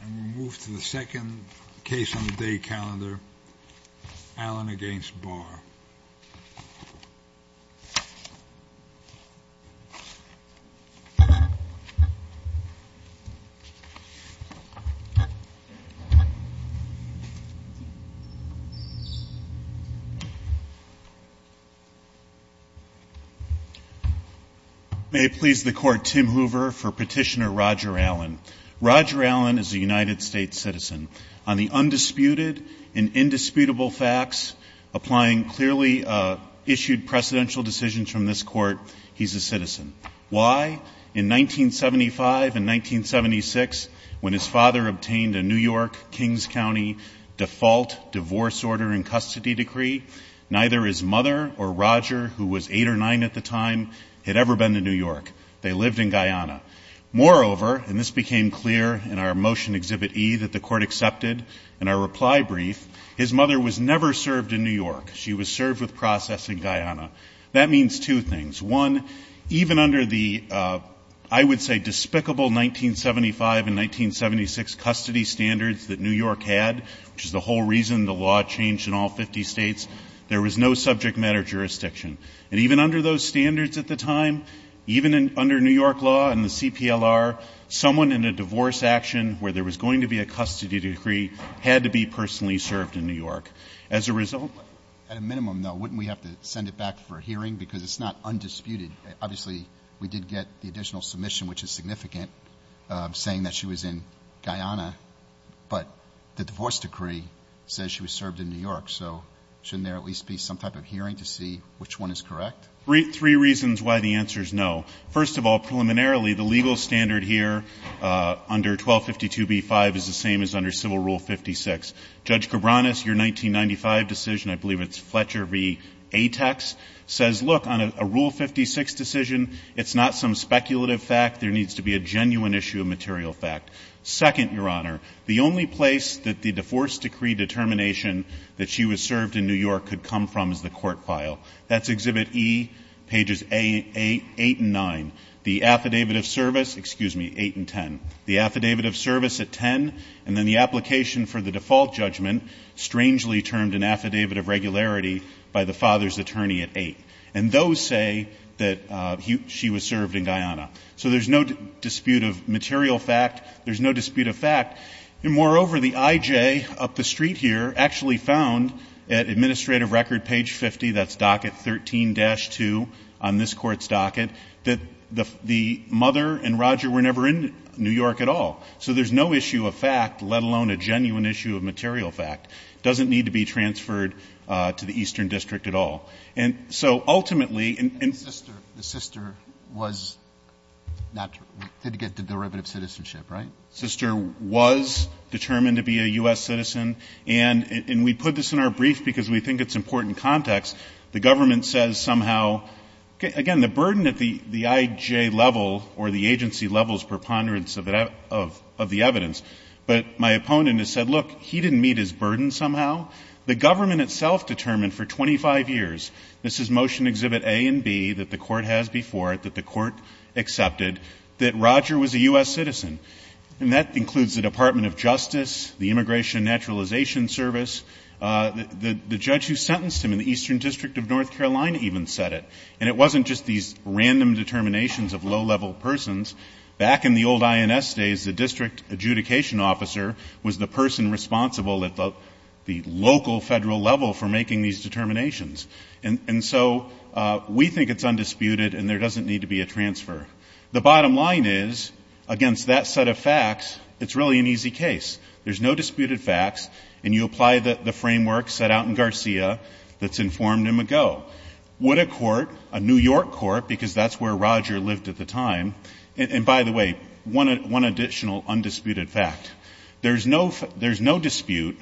And we move to the second case on the day calendar, Allen v. Barr. May it please the Court, Tim Hoover for Petitioner Roger Allen. Roger Allen is a United States citizen. On the undisputed and indisputable facts applying clearly issued presidential decisions from this Court, he's a citizen. Why? In 1975 and 1976, when his father obtained a New York, Kings County default divorce order and custody decree, neither his mother or Roger, who was eight or nine at the time, had ever been to New York. They lived in Guyana. Moreover, and this became clear in our Motion Exhibit E that the Court accepted in our reply brief, his mother was never served in New York. She was served with process in Guyana. That means two things. One, even under the, I would say, despicable 1975 and 1976 custody standards that New York had, which is the whole reason the law changed in all 50 states, there was no subject matter jurisdiction. And even under those standards at the time, even under New York law and the CPLR, someone in a divorce action where there was going to be a custody decree had to be personally served in New York. As a result, at a minimum, though, wouldn't we have to send it back for a hearing? Because it's not undisputed. Obviously, we did get the additional submission, which is significant, saying that she was in Guyana. But the divorce decree says she was served in New York. So shouldn't there at least be some type of hearing to see which one is correct? Three reasons why the answer is no. First of all, preliminarily, the legal standard here under 1252b-5 is the same as under Civil Rule 56. Judge Cabranes, your 1995 decision, I believe it's Fletcher v. Atex, says, look, on a Rule 56 decision, it's not some speculative fact. There needs to be a genuine issue of material fact. Second, Your Honor, the only place that the divorce decree determination that she was served in New York could come from is the court file. That's Exhibit E, pages 8 and 9. The affidavit of service, excuse me, 8 and 10. The affidavit of service at 10, and then the application for the default judgment, strangely termed an affidavit of regularity by the father's attorney at 8. And those say that she was served in Guyana. So there's no dispute of material fact. There's no dispute of fact. And moreover, the IJ up the street here actually found at Administrative Record, page 50, that's docket 13-2 on this court's docket, that the mother and Roger were never in New York at all. So there's no issue of fact, let alone a genuine issue of material fact. It doesn't need to be transferred to the Eastern District at all. The sister did get the derivative citizenship, right? The sister was determined to be a U.S. citizen. And we put this in our brief because we think it's important context. The government says somehow, again, the burden at the IJ level or the agency level is preponderance of the evidence. But my opponent has said, look, he didn't meet his burden somehow. The government itself determined for 25 years, this is Motion Exhibit A and B that the court has before it, that the court accepted that Roger was a U.S. citizen. And that includes the Department of Justice, the Immigration and Naturalization Service. The judge who sentenced him in the Eastern District of North Carolina even said it. And it wasn't just these random determinations of low-level persons. Back in the old INS days, the district adjudication officer was the person responsible at the local federal level for making these determinations. And so we think it's undisputed and there doesn't need to be a transfer. The bottom line is, against that set of facts, it's really an easy case. There's no disputed facts, and you apply the framework set out in Garcia that's informed him ago. But would a court, a New York court, because that's where Roger lived at the time. And by the way, one additional undisputed fact. There's no dispute,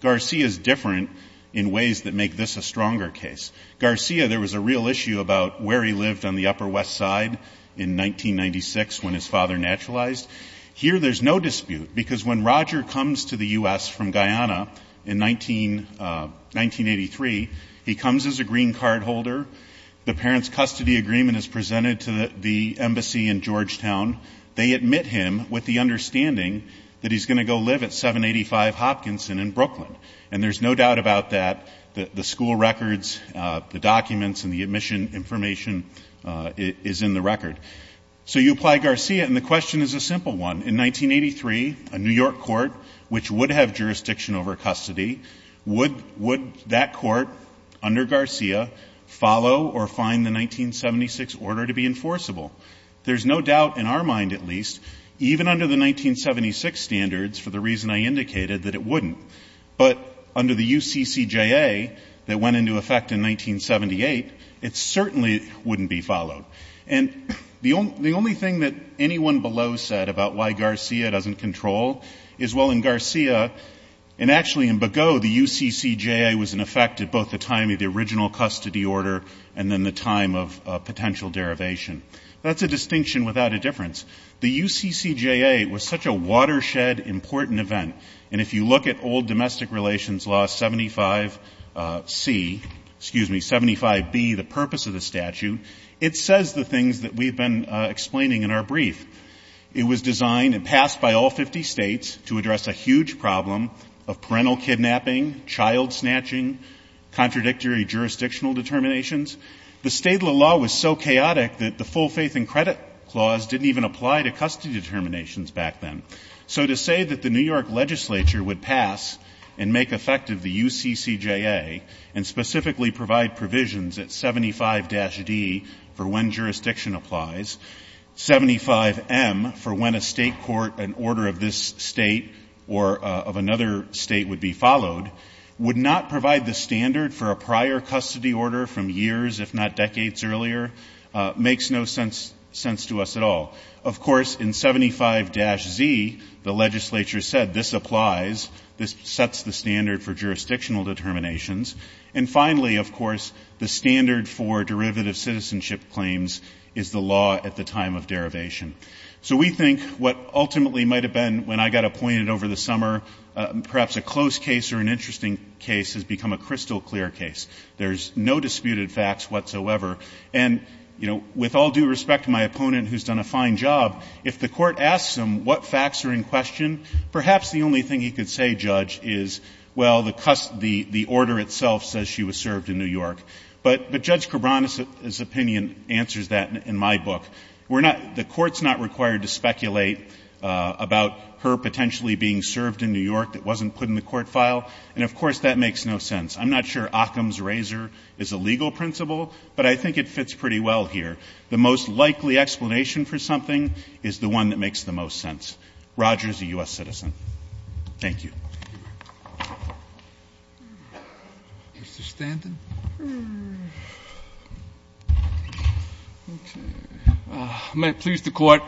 Garcia's different in ways that make this a stronger case. Garcia, there was a real issue about where he lived on the Upper West Side in 1996 when his father naturalized. Here there's no dispute, because when Roger comes to the U.S. from Guyana in 1983, he comes as a green card holder. The parents' custody agreement is presented to the embassy in Georgetown. They admit him with the understanding that he's going to go live at 785 Hopkinson in Brooklyn. And there's no doubt about that, the school records, the documents, and the admission information is in the record. So you apply Garcia, and the question is a simple one. In 1983, a New York court, which would have jurisdiction over custody, would that court under Garcia follow or find the 1976 order to be enforceable? There's no doubt in our mind, at least, even under the 1976 standards, for the reason I indicated, that it wouldn't. But under the UCCJA that went into effect in 1978, it certainly wouldn't be followed. And the only thing that anyone below said about why Garcia doesn't control is, well, in Garcia, and actually in Begaud, the UCCJA was in effect at both the time of the original custody order and then the time of potential derivation. That's a distinction without a difference. The UCCJA was such a watershed, important event. And if you look at old domestic relations law 75C, excuse me, 75B, the purpose of the statute, it says the things that we've been explaining in our brief. It was designed and passed by all 50 states to address a huge problem of parental kidnapping, child snatching, contradictory jurisdictional determinations. The state law was so chaotic that the full faith and credit clause didn't even apply to custody determinations back then. So to say that the New York legislature would pass and make effective the UCCJA, and specifically provide provisions at 75-D for when jurisdiction applies, 75M for when a state court, an order of this state or of another state would be followed, would not provide the standard for a prior custody order from years, if not decades earlier, makes no sense to us at all. Of course, in 75-Z, the legislature said this applies. This sets the standard for jurisdictional determinations. And finally, of course, the standard for derivative citizenship claims is the law at the time of derivation. So we think what ultimately might have been, when I got appointed over the summer, perhaps a close case or an interesting case has become a crystal clear case. There's no disputed facts whatsoever. And, you know, with all due respect to my opponent, who's done a fine job, if the court asks him what facts are in question, perhaps the only thing he could say, Judge, is, well, the order itself says she was served in New York. But Judge Cabran's opinion answers that in my book. The court's not required to speculate about her potentially being served in New York that wasn't put in the court file. And, of course, that makes no sense. I'm not sure Occam's razor is a legal principle, but I think it fits pretty well here. The most likely explanation for something is the one that makes the most sense. Roger is a U.S. citizen. Thank you. Mr. Stanton? May it please the court,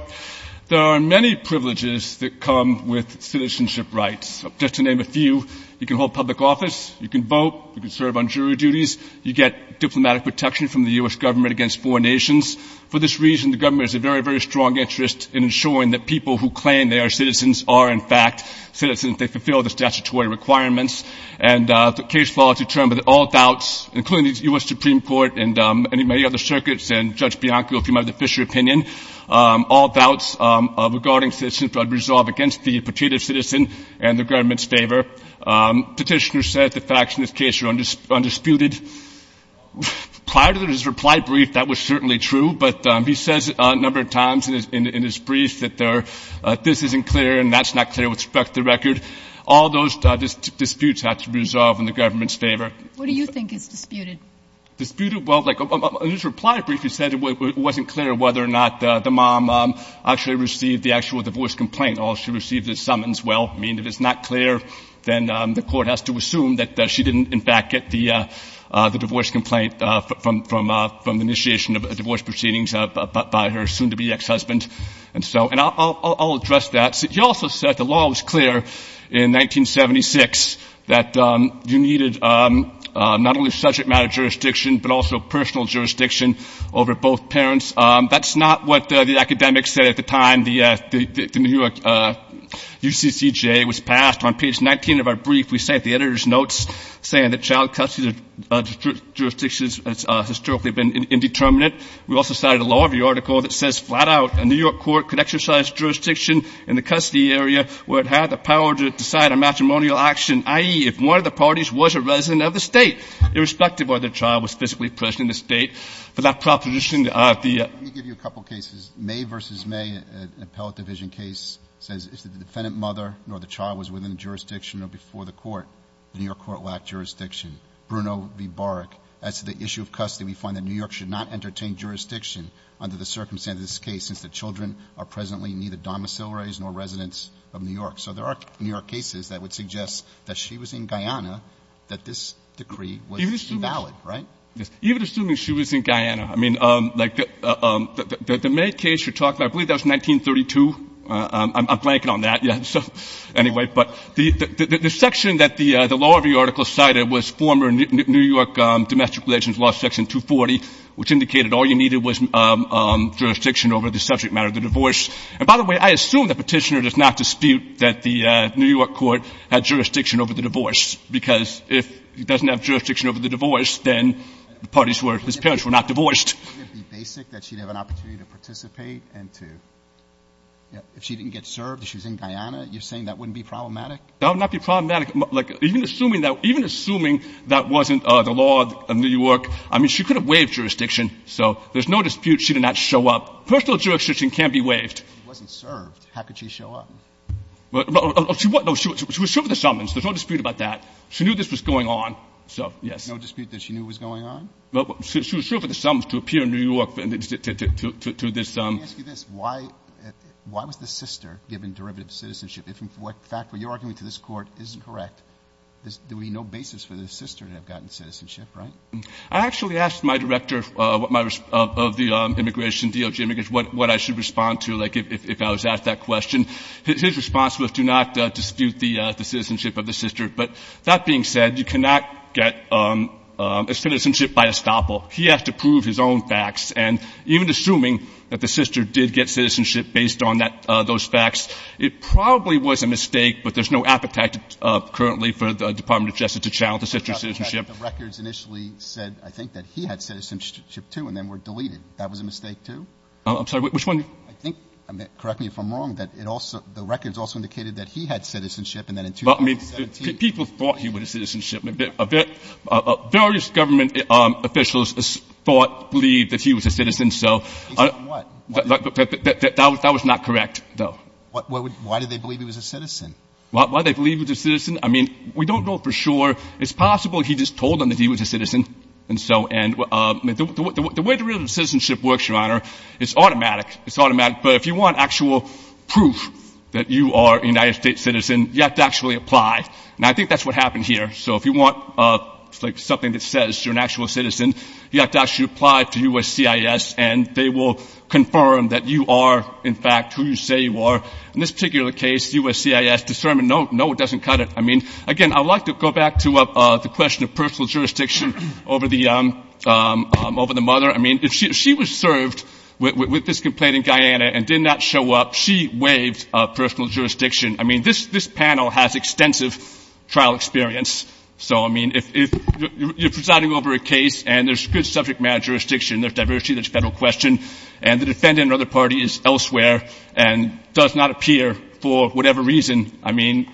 there are many privileges that come with citizenship rights. Just to name a few, you can hold public office. You can vote. You can serve on jury duties. You get diplomatic protection from the U.S. government against foreign nations. For this reason, the government has a very, very strong interest in ensuring that people who claim they are citizens are, in fact, citizens. They fulfill the statutory requirements. And the case follows a term with all doubts, including the U.S. Supreme Court and many other circuits and Judge Bianco, if you mind, the Fisher opinion, all doubts regarding citizenship are resolved against the petitioner's citizen and the government's favor. Petitioner says the facts in this case are undisputed. Prior to his reply brief, that was certainly true, but he says a number of times in his briefs that this isn't clear and that's not clear, which struck the record. All those disputes have to be resolved in the government's favor. What do you think is disputed? Disputed? Well, in his reply brief, he said it wasn't clear whether or not the mom actually received the actual divorce complaint. All she received is summons. Well, I mean, if it's not clear, then the court has to assume that she didn't, in fact, get the divorce complaint from initiation of divorce proceedings by her soon-to-be ex-husband. And so I'll address that. He also said the law was clear in 1976 that you needed not only subject matter jurisdiction but also personal jurisdiction over both parents. That's not what the academics said at the time the New York UCCJ was passed. On page 19 of our brief, we sent the editor's notes saying that child custody jurisdiction has historically been indeterminate. We also cited a law review article that says flat-out a New York court could exercise jurisdiction in the custody area where it had the power to decide on matrimonial action, i.e., if one of the parties was a resident of the state, irrespective of whether the child was physically present in the state. But that proposition, the RFP… Let me give you a couple cases. May v. May, an appellate division case, says if the defendant mother nor the child was within jurisdiction or before the court, the New York court lacked jurisdiction. Bruno v. Baric adds to the issue of custody, we find that New York should not entertain jurisdiction under the circumstances of this case since the children are presently neither domiciliaries nor residents of New York. So there are New York cases that would suggest that she was in Guyana, that this decree was invalid, right? Even assuming she was in Guyana. I mean, like the May case you're talking about, I believe that was 1932. I'm blanking on that yet. Anyway, but the section that the law review article cited was former New York domestic relations law section 240, which indicated all you needed was jurisdiction over the subject matter of the divorce. And by the way, I assume the petitioner does not dispute that the New York court had jurisdiction over the divorce, because if it doesn't have jurisdiction over the divorce, then the parties whose parents were not divorced. If she didn't get served and she was in Guyana, you're saying that wouldn't be problematic? That would not be problematic. Even assuming that wasn't the law of New York, I mean, she could have waived jurisdiction. So there's no dispute she did not show up. Personal jurisdiction can't be waived. She wasn't served. How could she show up? She was served with a summons. There's no dispute about that. She knew this was going on. There's no dispute that she knew it was going on? She was served with a summons to appear in New York. Let me ask you this. Why was the sister given derivative citizenship? In fact, what you're arguing to this court isn't correct. There would be no basis for the sister to have gotten citizenship, right? I actually asked my director of the immigration deal, Jim, what I should respond to if I was asked that question. His response was to not dispute the citizenship of the sister. But that being said, you cannot get a citizenship by estoppel. He has to prove his own facts. And even assuming that the sister did get citizenship based on those facts, it probably was a mistake, but there's no appetite currently for the Department of Justice to challenge the sister's citizenship. The records initially said, I think, that he had citizenship, too, and then were deleted. That was a mistake, too? I'm sorry, which one? I think, correct me if I'm wrong, but the records also indicated that he had citizenship and then in 2013, people thought he would have citizenship. Various government officials thought, believed that he was a citizen. That was not correct, though. Why did they believe he was a citizen? Why did they believe he was a citizen? I mean, we don't know for sure. It's possible he just told them that he was a citizen. And so the way derivative citizenship works, Your Honor, is automatic. It's automatic. But if you want actual proof that you are a United States citizen, you have to actually apply. And I think that's what happened here. So if you want something that says you're an actual citizen, you have to actually apply to USCIS, and they will confirm that you are, in fact, who you say you are. In this particular case, USCIS determined no one doesn't cut it. I mean, again, I'd like to go back to the question of personal jurisdiction over the mother. I mean, if she was served with this complaint in Guyana and did not show up, she waived personal jurisdiction. I mean, this panel has extensive trial experience. So, I mean, if you're presiding over a case and there's good subject matter jurisdiction, there's diversity, there's federal question, and the defendant or other party is elsewhere and does not appear for whatever reason, I mean,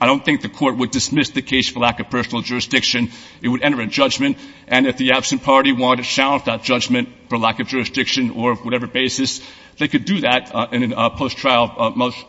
I don't think the court would dismiss the case for lack of personal jurisdiction. It would enter a judgment. And if the absent party wanted to challenge that judgment for lack of jurisdiction or whatever basis, they could do that in a post-trial motion.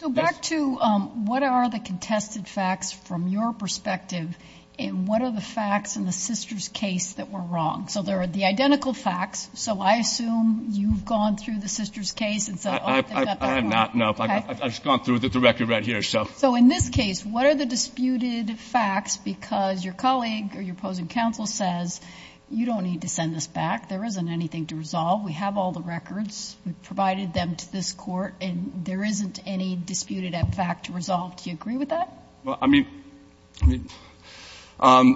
So back to what are the contested facts from your perspective, and what are the facts in the sister's case that were wrong? So there are the identical facts. So I assume you've gone through the sister's case. I have not, no. I've just gone through the record right here. So in this case, what are the disputed facts? Because your colleague or your opposing counsel says you don't need to send this back. There isn't anything to resolve. We have all the records. We've provided them to this court, and there isn't any disputed fact to resolve. Do you agree with that? Well, I mean, I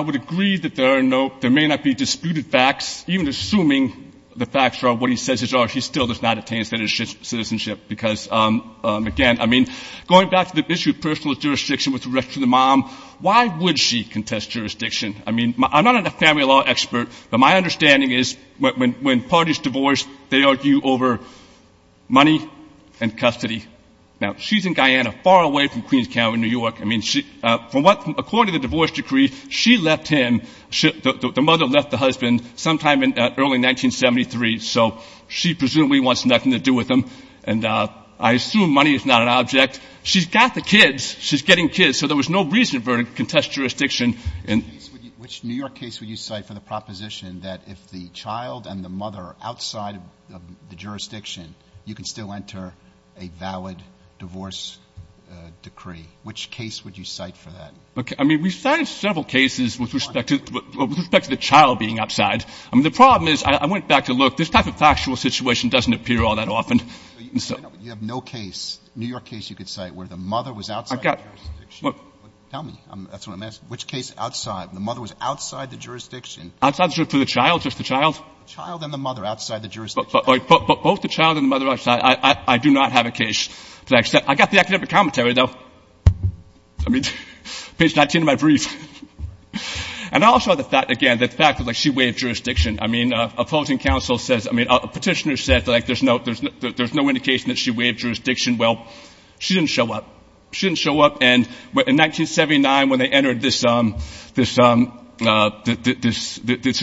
would agree that there may not be disputed facts, even assuming the facts are what he says are, he still does not attain citizenship. Because, again, I mean, going back to the issue of personal jurisdiction with respect to the mom, why would she contest jurisdiction? I mean, I'm not a family law expert, but my understanding is when parties divorce, they argue over money and custody. Now, she's in Guyana, far away from Queens County, New York. I mean, according to the divorce decree, she left him, the mother left the husband, sometime in early 1973, so she presumably wants nothing to do with him. And I assume money is not an object. She's gone for kids. She's getting kids. So there was no reason for her to contest jurisdiction. Which New York case would you cite for the proposition that if the child and the mother are outside of the jurisdiction, you can still enter a valid divorce decree? Which case would you cite for that? I mean, we've cited several cases with respect to the child being outside. I mean, the problem is, I went back to look. This type of factual situation doesn't appear all that often. You have no case, New York case you could cite, where the mother was outside the jurisdiction? Tell me. That's what I'm asking. Which case outside, the mother was outside the jurisdiction? Outside the jurisdiction for the child, just the child? The child and the mother outside the jurisdiction. But both the child and the mother outside, I do not have a case to accept. I got the academic commentary, though. I mean, page 19 of my brief. And also the fact, again, the fact that she waived jurisdiction. I mean, opposing counsel says, I mean, a petitioner says there's no indication that she waived jurisdiction. Well, she didn't show up. She didn't show up, and in 1979, when they entered this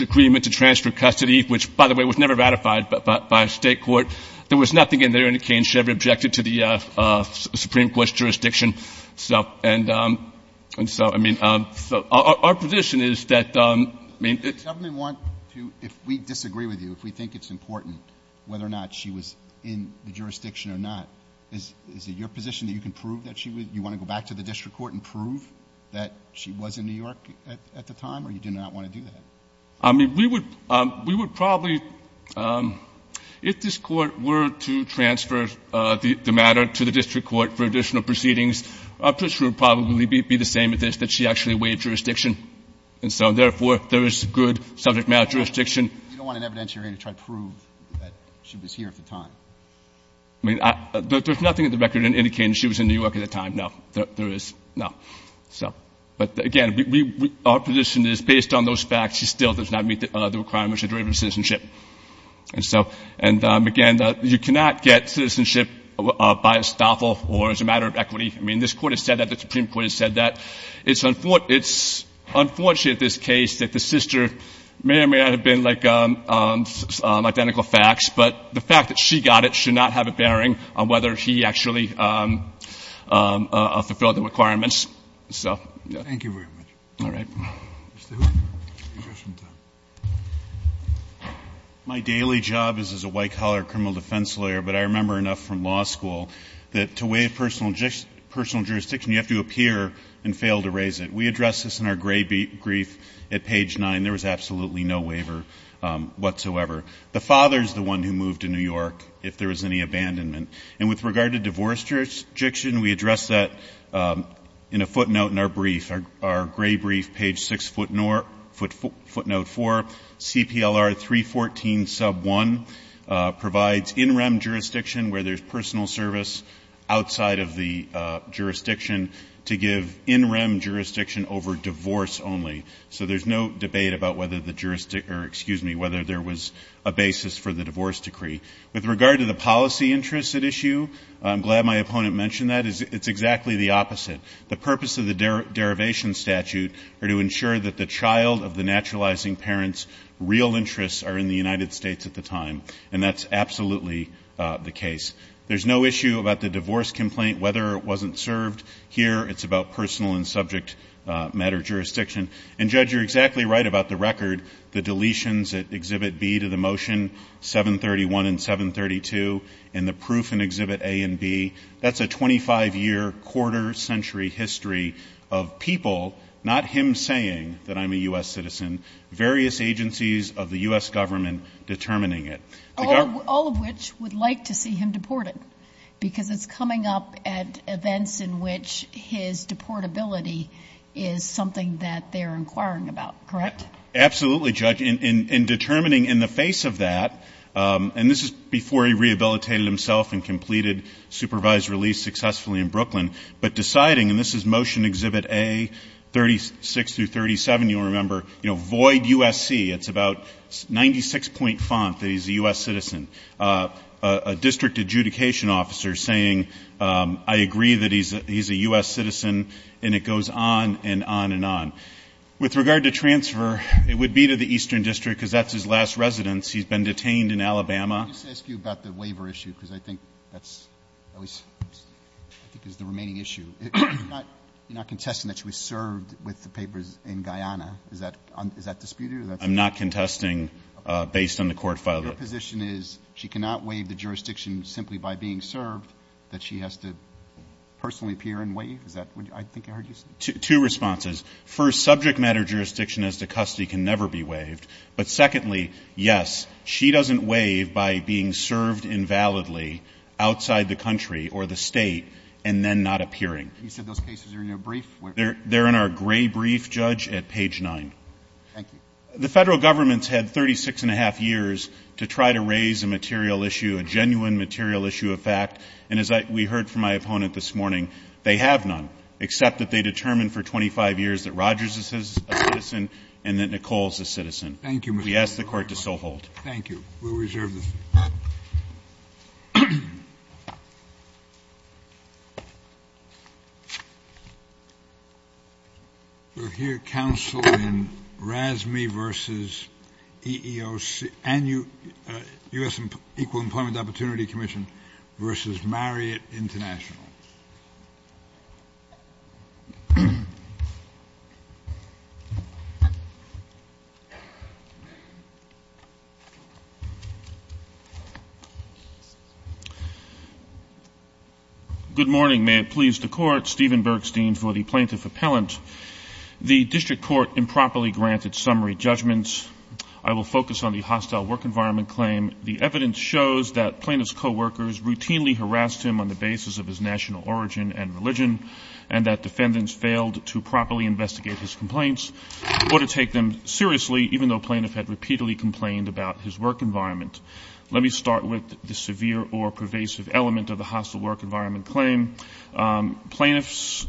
agreement to transfer custody, which, by the way, was never ratified by state court, there was nothing in there in exchange. She never objected to the Supreme Court's jurisdiction. And so, I mean, our position is that we want to, if we disagree with you, if we think it's important whether or not she was in the jurisdiction or not, is it your position that you can prove that she was? Do you want to go back to the district court and prove that she was in New York at the time, or you do not want to do that? I mean, we would probably, if this court were to transfer the matter to the district court for additional proceedings, this would probably be the same as this, that she actually waived jurisdiction. And so, therefore, there is good subject matter jurisdiction. You don't want an evidence you're going to try to prove that she was here at the time. I mean, there's nothing in the record indicating she was in New York at the time. No, there is not. So, but, again, our position is, based on those facts, she still does not meet the requirements of derivative citizenship. And, again, you cannot get citizenship by estoppel or as a matter of equity. I mean, this court has said that. The Supreme Court has said that. It's unfortunate, this case, that the sister may or may not have been, like, identical facts, but the fact that she got it should not have a bearing on whether he actually fulfilled the requirements. Thank you very much. All right. Mr. Stewart. My daily job is as a white-collar criminal defense lawyer, but I remember enough from law school that to waive personal jurisdiction, you have to appear and fail to raise it. We addressed this in our gray brief at page 9. There was absolutely no waiver whatsoever. The father is the one who moved to New York if there was any abandonment. And with regard to divorce jurisdiction, we addressed that in a footnote in our brief, our gray brief, page 6 footnote 4, CPLR 314 sub 1, provides in-rem jurisdiction where there's personal service outside of the jurisdiction to give in-rem jurisdiction over divorce only. So there's no debate about whether there was a basis for the divorce decree. With regard to the policy interests at issue, I'm glad my opponent mentioned that. It's exactly the opposite. The purpose of the derivation statute are to ensure that the child of the naturalizing parent's real interests are in the United States at the time, and that's absolutely the case. There's no issue about the divorce complaint, whether it wasn't served. Here, it's about personal and subject matter jurisdiction. And, Judge, you're exactly right about the record, the deletions at Exhibit B to the motion, 731 and 732, and the proof in Exhibit A and B. That's a 25-year, quarter-century history of people, not him saying that I'm a U.S. citizen, various agencies of the U.S. government determining it. All of which would like to see him deported, because it's coming up at events in which his deportability is something that they're inquiring about, correct? Absolutely, Judge. In determining in the face of that, and this is before he rehabilitated himself and completed supervised release successfully in Brooklyn, but deciding, and this is Motion Exhibit A, 36 through 37, you'll remember, you know, void USC, it's about 96-point font that he's a U.S. citizen. A district adjudication officer saying, I agree that he's a U.S. citizen, and it goes on and on and on. With regard to transfer, it would be to the Eastern District, because that's his last residence. He's been detained in Alabama. Let me just ask you about the waiver issue, because I think that's the remaining issue. You're not contesting that she was served with the papers in Guyana. Is that disputed? I'm not contesting based on the court file. Your position is she cannot waive the jurisdiction simply by being served, that she has to personally appear and waive? First, subject matter jurisdiction as to custody can never be waived. But secondly, yes, she doesn't waive by being served invalidly outside the country or the state and then not appearing. You said those cases are in your brief? They're in our gray brief, Judge, at page 9. Thank you. The federal government's had 36-and-a-half years to try to raise a material issue, a genuine material issue of fact, and as we heard from my opponent this morning, they have none, except that they determined for 25 years that Rogers is a citizen and that Nicole is a citizen. We ask the court to so hold. Thank you. We'll reserve this. Thank you. We'll hear counsel in RASME versus EEOC, and U.S. Equal Employment Opportunity Commission versus Marriott International. Good morning. May it please the court, Stephen Bergstein for the plaintiff appellant. The district court improperly granted summary judgments. I will focus on the hostile work environment claim. The evidence shows that plaintiff's coworkers routinely harassed him on the basis of his national origin and religion and that defendants failed to properly investigate his complaints or to take them seriously, even though the plaintiff had repeatedly complained about his work environment. Let me start with the severe or pervasive element of the hostile work environment claim. Plaintiffs,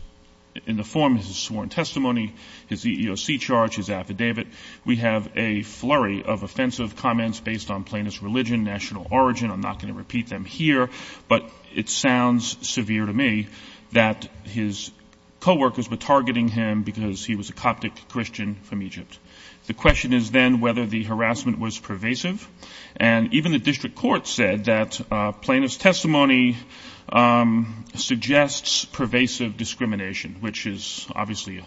in the form of his sworn testimony, his EEOC charge, his affidavit, we have a flurry of offensive comments based on plaintiff's religion, national origin. I'm not going to repeat them here, but it sounds severe to me that his coworkers were targeting him because he was a Coptic Christian from Egypt. The question is then whether the harassment was pervasive, and even the district court said that plaintiff's testimony suggests pervasive discrimination, which is obviously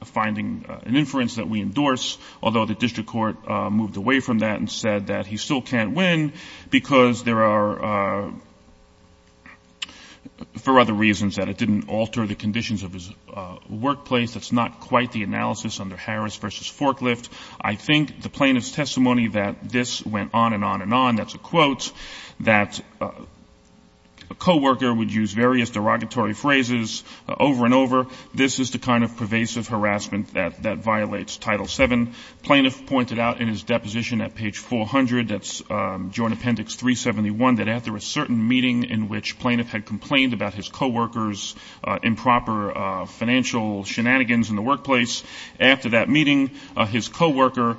a finding, an inference that we endorse, although the district court moved away from that and said that he still can't win because there are other reasons that it didn't alter the conditions of his workplace. That's not quite the analysis under Harris v. Forklift. I think the plaintiff's testimony that this went on and on and on, that's a quote, that a coworker would use various derogatory phrases over and over, this is the kind of pervasive harassment that violates Title VII. Plaintiff pointed out in his deposition at page 400, that's Joint Appendix 371, that after a certain meeting in which plaintiff had complained about his coworkers' improper financial shenanigans in the workplace, after that meeting, his coworker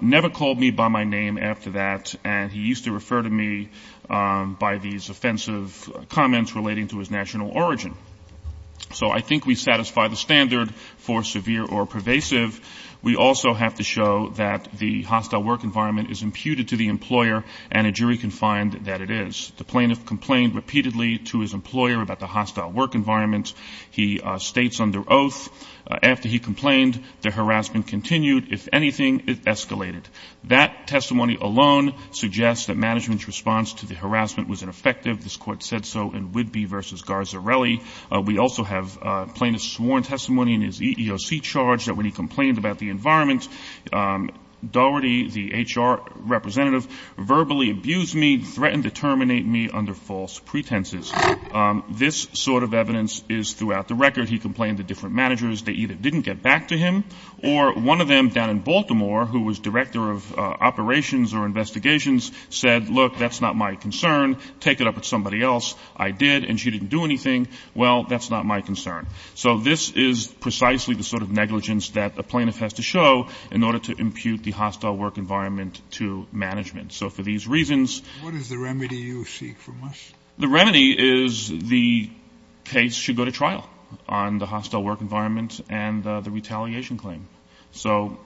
never called me by my name after that, and he used to refer to me by these offensive comments relating to his national origin. So I think we satisfy the standard for severe or pervasive. We also have to show that the hostile work environment is imputed to the employer, and a jury can find that it is. The plaintiff complained repeatedly to his employer about the hostile work environment. He states under oath, after he complained, the harassment continued. If anything, it escalated. That testimony alone suggests that management's response to the harassment was ineffective. This court said so in Whidbey v. Garzarelli. We also have plaintiff's sworn testimony in his EEOC charge that when he complained about the environment, Doherty, the HR representative, verbally abused me, threatened to terminate me under false pretenses. This sort of evidence is throughout the record. He complained to different managers. They either didn't get back to him, or one of them down in Baltimore, who was director of operations or investigations, said, look, that's not my concern. Take it up with somebody else. I did, and she didn't do anything. Well, that's not my concern. So this is precisely the sort of negligence that a plaintiff has to show in order to impute the hostile work environment to management. So for these reasons, What is the remedy you seek from us? The remedy is the case should go to trial on the hostile work environment and the retaliation claim. So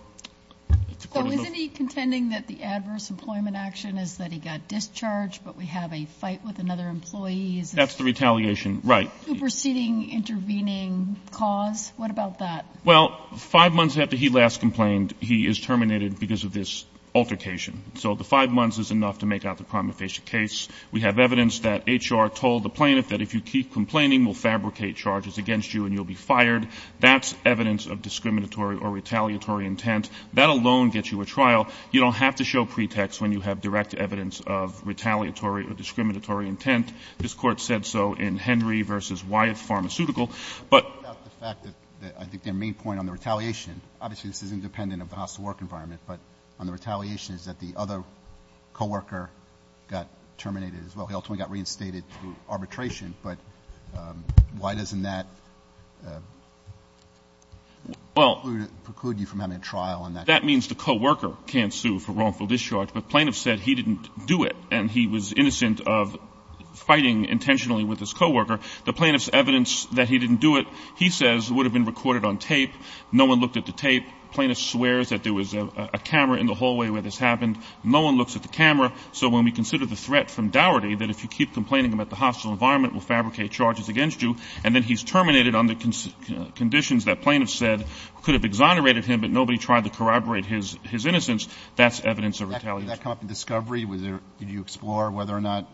isn't he contending that the adverse employment action is that he got discharged, but we have a fight with another employee? That's the retaliation, right. Superseding intervening cause? What about that? Well, five months after he last complained, he is terminated because of this altercation. So the five months is enough to make out the crime of facial case. We have evidence that H.R. told the plaintiff that if you keep complaining, we'll fabricate charges against you and you'll be fired. That's evidence of discriminatory or retaliatory intent. That alone gets you a trial. You don't have to show pretext when you have direct evidence of retaliatory or discriminatory intent. This court said so in Henry v. Wyeth Pharmaceutical. I think the main point on the retaliation, obviously this is independent of the hostile work environment, but on the retaliation is that the other co-worker got terminated as well. He also got reinstated through arbitration. But why doesn't that preclude you from having a trial? That means the co-worker can't sue for wrongful discharge. The plaintiff said he didn't do it and he was innocent of fighting intentionally with his co-worker. The plaintiff's evidence that he didn't do it, he says, would have been recorded on tape. No one looked at the tape. The plaintiff swears that there was a camera in the hallway where this happened. No one looks at the camera. So when we consider the threat from dowry that if you keep complaining about the hostile environment, we'll fabricate charges against you, and then he's terminated under conditions that plaintiffs said could have exonerated him but nobody tried to corroborate his innocence, that's evidence of retaliation. Did you explore whether or not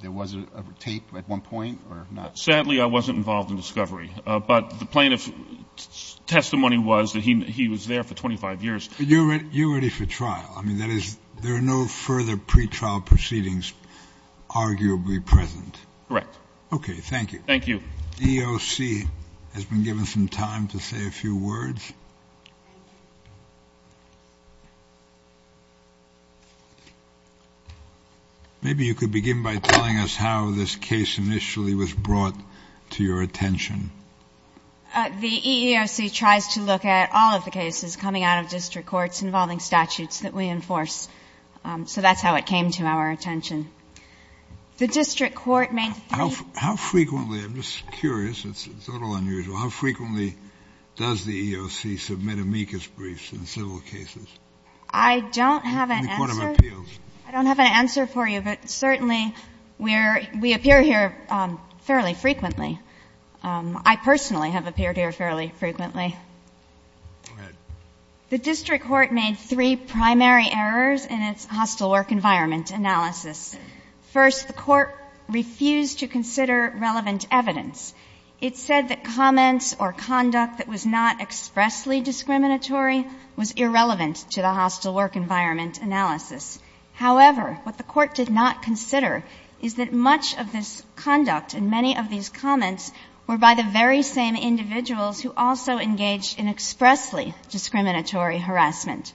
there was a tape at one point or not? Sadly, I wasn't involved in discovery. But the plaintiff's testimony was that he was there for 25 years. You're ready for trial. I mean, there are no further pretrial proceedings arguably present. Correct. Okay, thank you. Thank you. The EEOC has been given some time to say a few words. Maybe you could begin by telling us how this case initially was brought to your attention. The EEOC tries to look at all of the cases coming out of district courts involving statutes that we enforce. So that's how it came to our attention. How frequently does the EEOC submit amicus briefs in civil cases? I don't have an answer for you, but certainly we appear here fairly frequently. I personally have appeared here fairly frequently. The district court made three primary errors in its hostile work environment analysis. First, the court refused to consider relevant evidence. It said that comments or conduct that was not expressly discriminatory was irrelevant to the hostile work environment analysis. However, what the court did not consider is that much of this conduct and many of these comments were by the very same individuals who also engaged in expressly discriminatory harassment.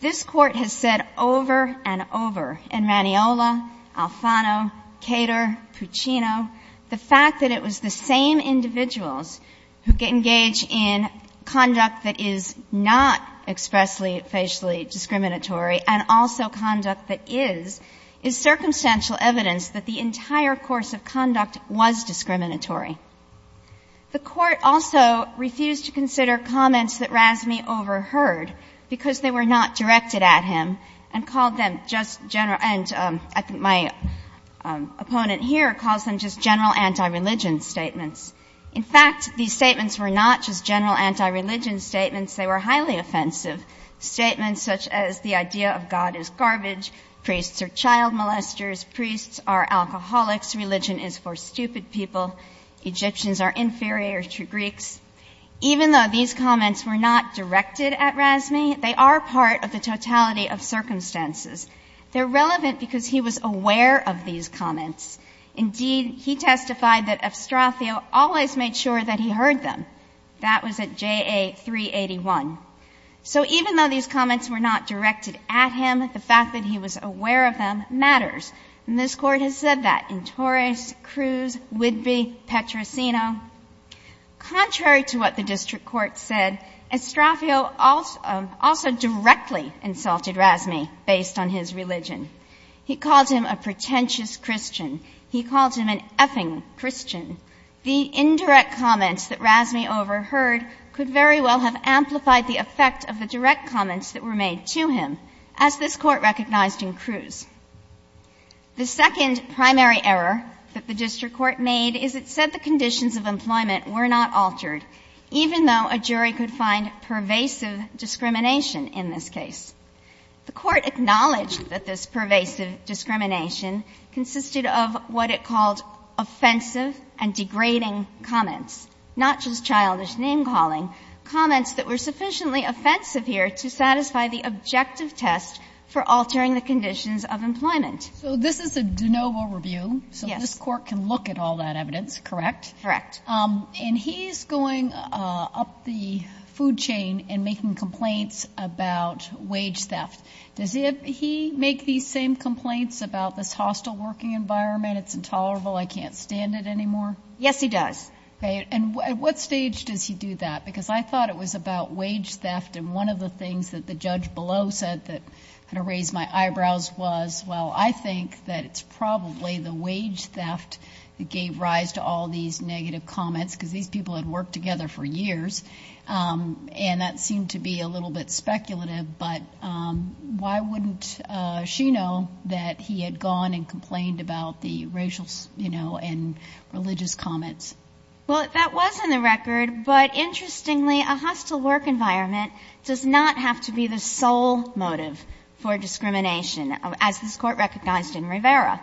This court has said over and over in Maniola, Alfano, Cater, Puccino, the fact that it was the same individuals who engage in conduct that is not expressly, and also conduct that is, is circumstantial evidence that the entire course of conduct was discriminatory. The court also refused to consider comments that Razmi overheard because they were not directed at him and called them just general anti-religion statements. In fact, these statements were not just general anti-religion statements. They were highly offensive statements such as the idea of God is garbage, priests are child molesters, priests are alcoholics, religion is for stupid people, Egyptians are inferior to Greeks. Even though these comments were not directed at Razmi, they are part of the totality of circumstances. They're relevant because he was aware of these comments. Indeed, he testified that Astrafio always made sure that he heard them. That was at JA 381. So even though these comments were not directed at him, the fact that he was aware of them matters. And this court has said that in Torres, Cruz, Whitby, Petrosino. Contrary to what the district court said, Astrafio also directly insulted Razmi based on his religion. He calls him a pretentious Christian. He calls him an effing Christian. The indirect comments that Razmi overheard could very well have amplified the effect of the direct comments that were made to him, as this court recognized in Cruz. The second primary error that the district court made is it said the conditions of employment were not altered, even though a jury could find pervasive discrimination in this case. The court acknowledged that this pervasive discrimination consisted of what it called offensive and degrading comments, not just childish name-calling, comments that were sufficiently offensive here to satisfy the objective test for altering the conditions of employment. So this is a de novo review, so this court can look at all that evidence, correct? Correct. And he's going up the food chain and making complaints about wage theft. Does he make these same complaints about this hostile working environment? It's intolerable. I can't stand it anymore. Yes, he does. And at what stage does he do that? Because I thought it was about wage theft, and one of the things that the judge below said that kind of raised my eyebrows was, well, I think that it's probably the wage theft that gave rise to all these negative comments, because these people had worked together for years, and that seemed to be a little bit speculative, but why wouldn't she know that he had gone and complained about the racial and religious comments? Well, that was on the record, but interestingly, a hostile work environment does not have to be the sole motive for discrimination, as this court recognized in Rivera.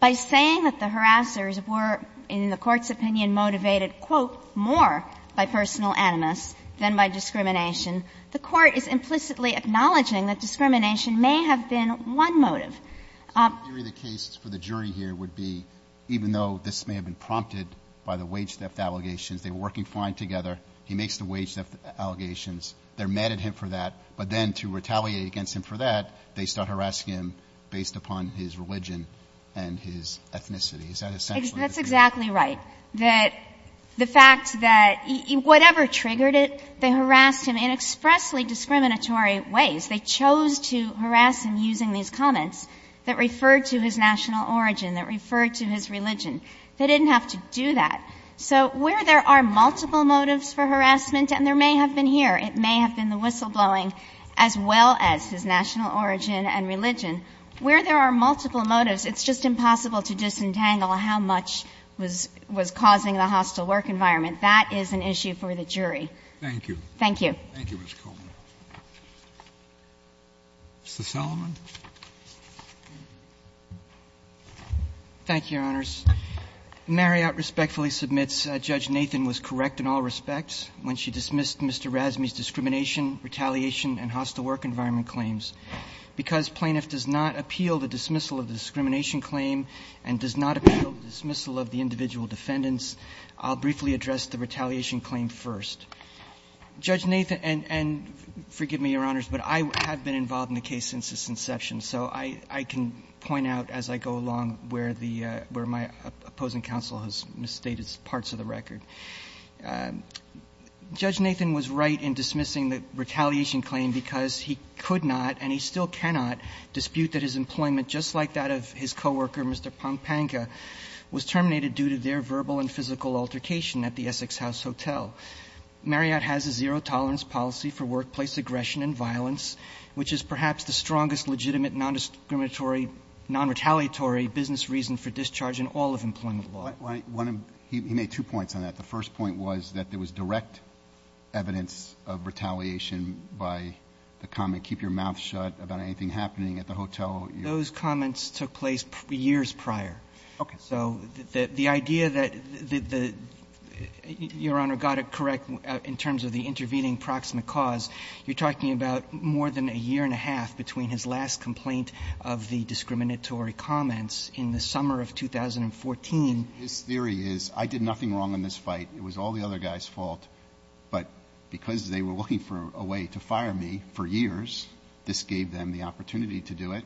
By saying that the harassers were, in the court's opinion, motivated, quote, more by personal animus than by discrimination, the court is implicitly acknowledging that discrimination may have been one motive. The case for the jury here would be, even though this may have been prompted by the wage theft allegations, they were working fine together, he makes the wage theft allegations, they're mad at him for that, but then to retaliate against him for that, they start harassing him based upon his religion and his ethnicity. That's exactly right, that the fact that whatever triggered it, they harassed him in expressly discriminatory ways. They chose to harass him using these comments that referred to his national origin, that referred to his religion. They didn't have to do that. So where there are multiple motives for harassment, and there may have been here, it may have been the whistleblowing, as well as his national origin and religion, where there are multiple motives, it's just impossible to disentangle how much was causing the hostile work environment. That is an issue for the jury. Thank you. Thank you. Mr. Sullivan? Thank you, Your Honors. Marriott respectfully submits Judge Nathan was correct in all respects when she dismissed Mr. Razmi's discrimination, retaliation, and hostile work environment claims. Because plaintiff does not appeal the dismissal of the discrimination claim and does not appeal the dismissal of the individual defendants, I'll briefly address the retaliation claim first. Judge Nathan, and forgive me, Your Honors, but I have been involved in the case since its inception, so I can point out as I go along where my opposing counsel has misstated parts of the record. Judge Nathan was right in dismissing the retaliation claim because he could not, and he still cannot, dispute that his employment, just like that of his co-worker, Mr. Pampanga, was terminated due to their verbal and physical altercation at the Essex House Hotel. Marriott has a zero tolerance policy for workplace aggression and violence, which is perhaps the strongest legitimate non-discriminatory, non-retaliatory business reason for discharge in all of employment law. He made two points on that. The first point was that there was direct evidence of retaliation by the comment, keep your mouth shut about anything happening at the hotel. Those comments took place years prior. Okay. So the idea that, Your Honor, got it correct in terms of the intervening proximate cause, you're talking about more than a year and a half between his last complaint of the discriminatory comments in the summer of 2014. His theory is I did nothing wrong in this fight. It was all the other guy's fault, but because they were looking for a way to fire me for years, this gave them the opportunity to do it.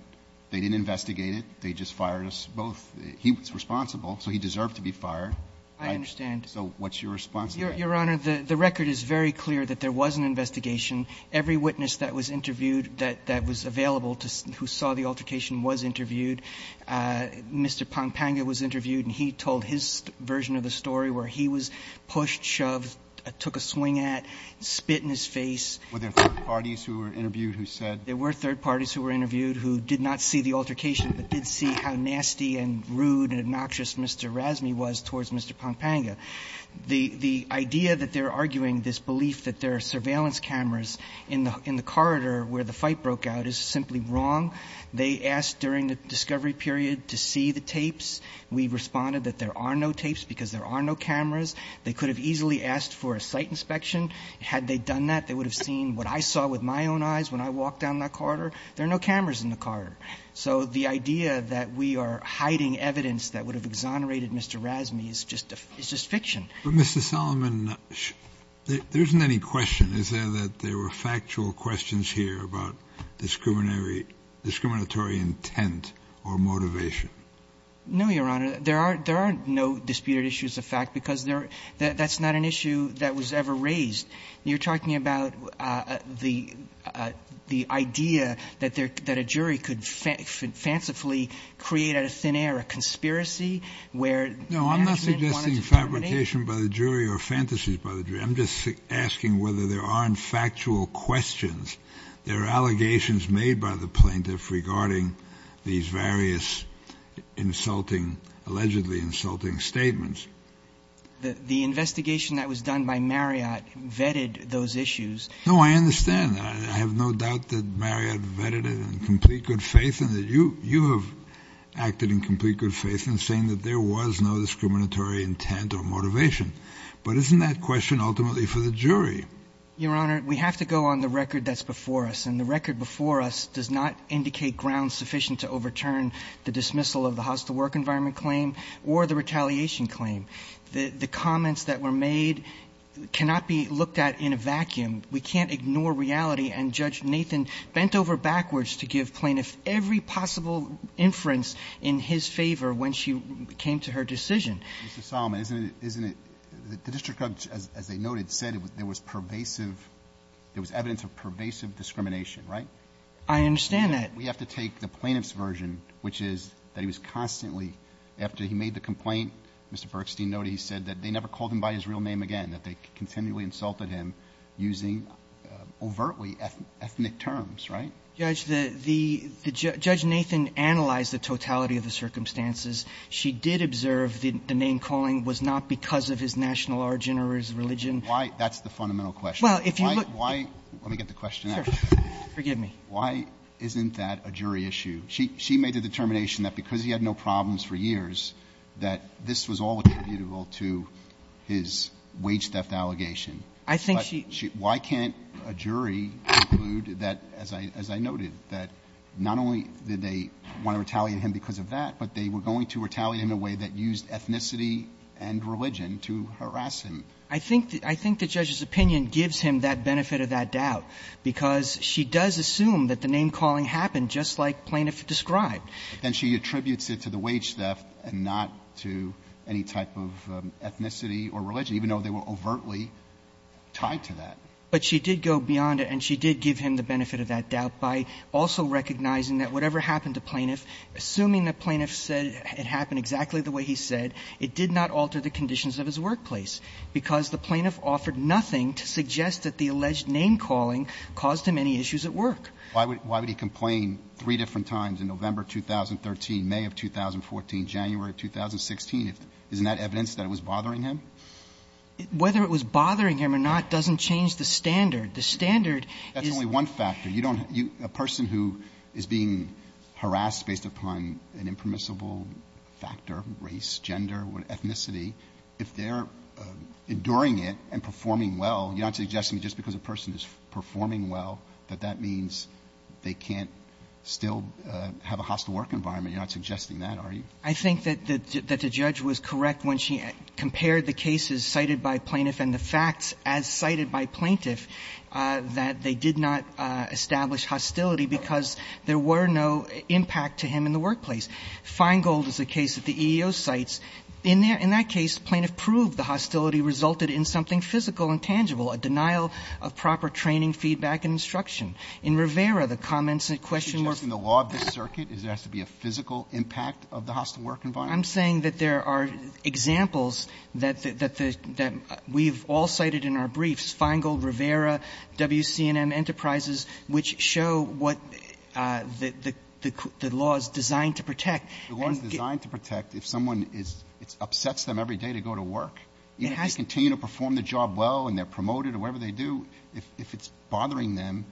They didn't investigate it. They just fired us both. He was responsible, so he deserved to be fired. I understand. So what's your response? Your Honor, the record is very clear that there was an investigation. Every witness that was interviewed that was available who saw the altercation was interviewed. Mr. Pompanga was interviewed, and he told his version of the story where he was pushed, shoved, took a swing at, spit in his face. Were there third parties who were interviewed who said? There were third parties who were interviewed who did not see the altercation but did see how nasty and rude and obnoxious Mr. Razmi was towards Mr. Pompanga. The idea that they're arguing this belief that there are surveillance cameras in the corridor where the fight broke out is simply wrong. They asked during the discovery period to see the tapes. We responded that there are no tapes because there are no cameras. They could have easily asked for a site inspection. Had they done that, they would have seen what I saw with my own eyes when I walked down that corridor. There are no cameras in the corridor. So the idea that we are hiding evidence that would have exonerated Mr. Razmi is just fiction. But, Mr. Solomon, there isn't any question. Is there that there were factual questions here about discriminatory intent or motivation? No, Your Honor. There are no disputed issues of fact because that's not an issue that was ever raised. You're talking about the idea that a jury could fancifully create a scenario, a conspiracy where... No, I'm not suggesting fabrication by the jury or fantasies by the jury. I'm just asking whether there aren't factual questions. There are allegations made by the plaintiff regarding these various allegedly insulting statements. The investigation that was done by Marriott vetted those issues. No, I understand. I have no doubt that Marriott vetted it in complete good faith and that you have acted in complete good faith in saying that there was no discriminatory intent or motivation. But isn't that question ultimately for the jury? Your Honor, we have to go on the record that's before us. And the record before us does not indicate ground sufficient to overturn the dismissal of the house-to-work environment claim or the retaliation claim. The comments that were made cannot be looked at in a vacuum. We can't ignore reality and Judge Nathan bent over backwards to give plaintiffs every possible inference in his favor when she came to her decision. Mr. Solomon, isn't it... the district judge, as they noted, said there was pervasive... there was evidence of pervasive discrimination, right? I understand that. We have to take the plaintiff's version, which is that he was constantly... after he made the complaint, Mr. Bergstein noted he said that they never called him by his real name again, that they continually insulted him using overtly ethnic terms, right? Judge, the... Judge Nathan analyzed the totality of the circumstances. She did observe the name-calling was not because of his national origin or his religion. Why... that's the fundamental question. Well, if you look... Why... let me get the question out. Forgive me. Why isn't that a jury issue? She made a determination that because he had no problems for years, that this was all attributable to his wage theft allegation. I think she... Why can't a jury conclude that, as I noted, that not only did they want to retaliate him because of that, but they were going to retaliate in a way that used ethnicity and religion to harass him? I think... I think the judge's opinion gives him that benefit of that doubt because she does assume that the name-calling happened just like plaintiff described. Then she attributes it to the wage theft and not to any type of ethnicity or religion, even though they were overtly tied to that. But she did go beyond it, and she did give him the benefit of that doubt by also recognizing that whatever happened to plaintiff, assuming that plaintiff said it happened exactly the way he said, it did not alter the conditions of his workplace. Because the plaintiff offered nothing to suggest that the alleged name-calling caused him any issues at work. Why would he complain three different times in November 2013, May of 2014, January of 2016? Isn't that evidence that it was bothering him? Whether it was bothering him or not doesn't change the standard. The standard is... based upon an impermissible factor, race, gender, ethnicity. If they're enduring it and performing well, you're not suggesting just because a person is performing well that that means they can't still have a hostile work environment. You're not suggesting that, are you? I think that the judge was correct when she compared the cases cited by plaintiff and the facts as cited by plaintiff that they did not establish hostility because there were no impact to him in the workplace. Feingold is a case that the EEO cites. In that case, plaintiff proved the hostility resulted in something physical and tangible, a denial of proper training, feedback, and instruction. She's working the law of this circuit? Does it have to be a physical impact of the hostile work environment? I'm saying that there are examples that we've all cited in our briefs, Feingold, Rivera, WC&M Enterprises, which show what the law is designed to protect. The law is designed to protect if someone upsets them every day to go to work. If they continue to perform the job well and they're promoted in whatever they do, if it's bothering them,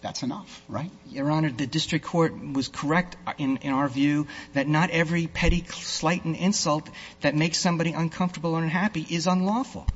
that's enough, right? Your Honor, the district court was correct in our view that not every petty, slight, and insult that makes somebody uncomfortable and unhappy is unlawful.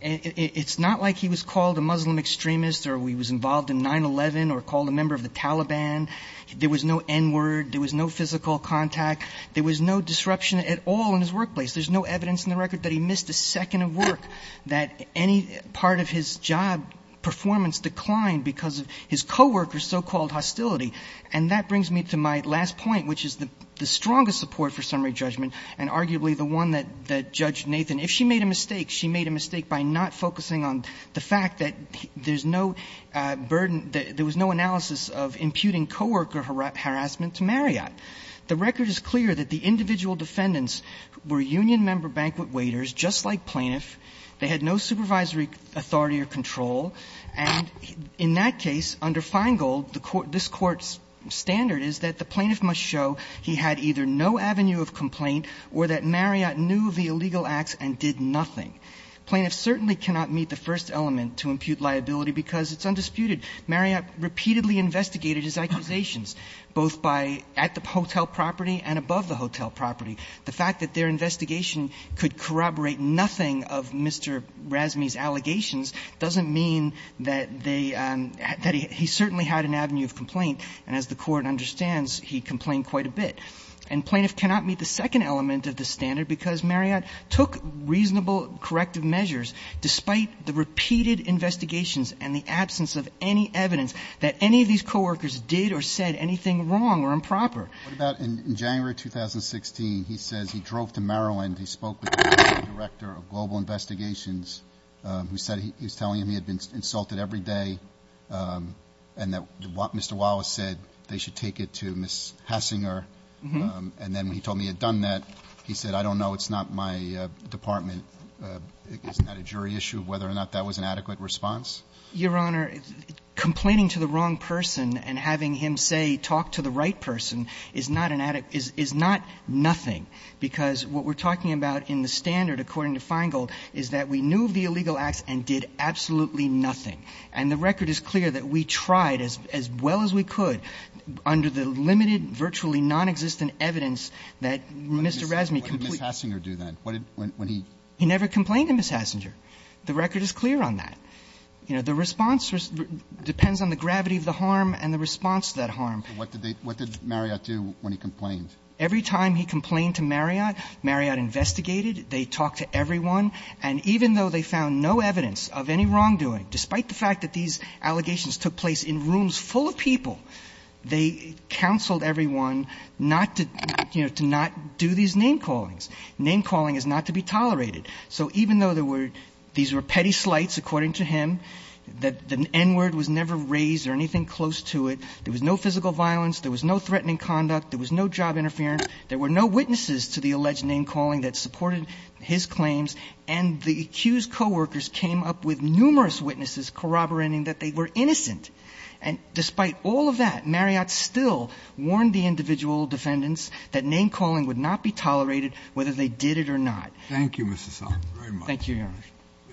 It's not like he was called a Muslim extremist or he was involved in 9-11 or called a member of the Taliban. There was no N-word. There was no physical contact. There was no disruption at all in his workplace. There's no evidence in the record that he missed a second of work, that any part of his job performance declined because of his co-worker's so-called hostility. And that brings me to my last point, which is the strongest support for summary judgment and arguably the one that Judge Nathan, if she made a mistake, she made a mistake by not focusing on the fact that there was no analysis of imputing co-worker harassment to Marriott. The record is clear that the individual defendants were union member banquet waiters, just like plaintiff. They had no supervisory authority or control, and in that case, under Feingold, this court's standard is that the plaintiff must show he had either no avenue of complaint or that Marriott knew of the illegal acts and did nothing. Plaintiff certainly cannot meet the first element to impute liability because it's undisputed. Marriott repeatedly investigated his accusations, both at the hotel property and above the hotel property. The fact that their investigation could corroborate nothing of Mr. Razmi's allegations doesn't mean that he certainly had an avenue of complaint, and as the court understands, he complained quite a bit. And plaintiff cannot meet the second element of the standard because Marriott took reasonable corrective measures despite the repeated investigations and the absence of any evidence that any of these co-workers did or said anything wrong or improper. What about in January 2016, he said he drove to Maryland, he spoke with the director of global investigations, he said he was telling him he had been insulted every day, and that Mr. Wallace said they should take it to Ms. Hassinger, and then he told me he had done that. He said, I don't know, it's not my department, it's not a jury issue of whether or not that was an adequate response. Your Honor, complaining to the wrong person and having him say, talk to the right person, is not nothing, because what we're talking about in the standard according to Feingold is that we knew the illegal act and did absolutely nothing. And the record is clear that we tried as well as we could under the limited, virtually nonexistent evidence that Mr. Razmi committed. He never complained to Ms. Hassinger. The record is clear on that. The response depends on the gravity of the harm and the response to that harm. What did Marriott do when he complained? Every time he complained to Marriott, Marriott investigated, they talked to everyone, and even though they found no evidence of any wrongdoing, despite the fact that these allegations took place in rooms full of people, they counseled everyone not to do these name callings. Name calling is not to be tolerated. So even though these were petty slights according to him, the N-word was never raised or anything close to it, there was no physical violence, there was no threatening conduct, there was no job interference, there were no witnesses to the alleged name calling that supported his claims, and the accused co-workers came up with numerous witnesses corroborating that they were innocent. And despite all of that, Marriott still warned the individual defendants that name calling would not be tolerated whether they did it or not. Thank you, Mr. Salk, very much. Thank you, Henry.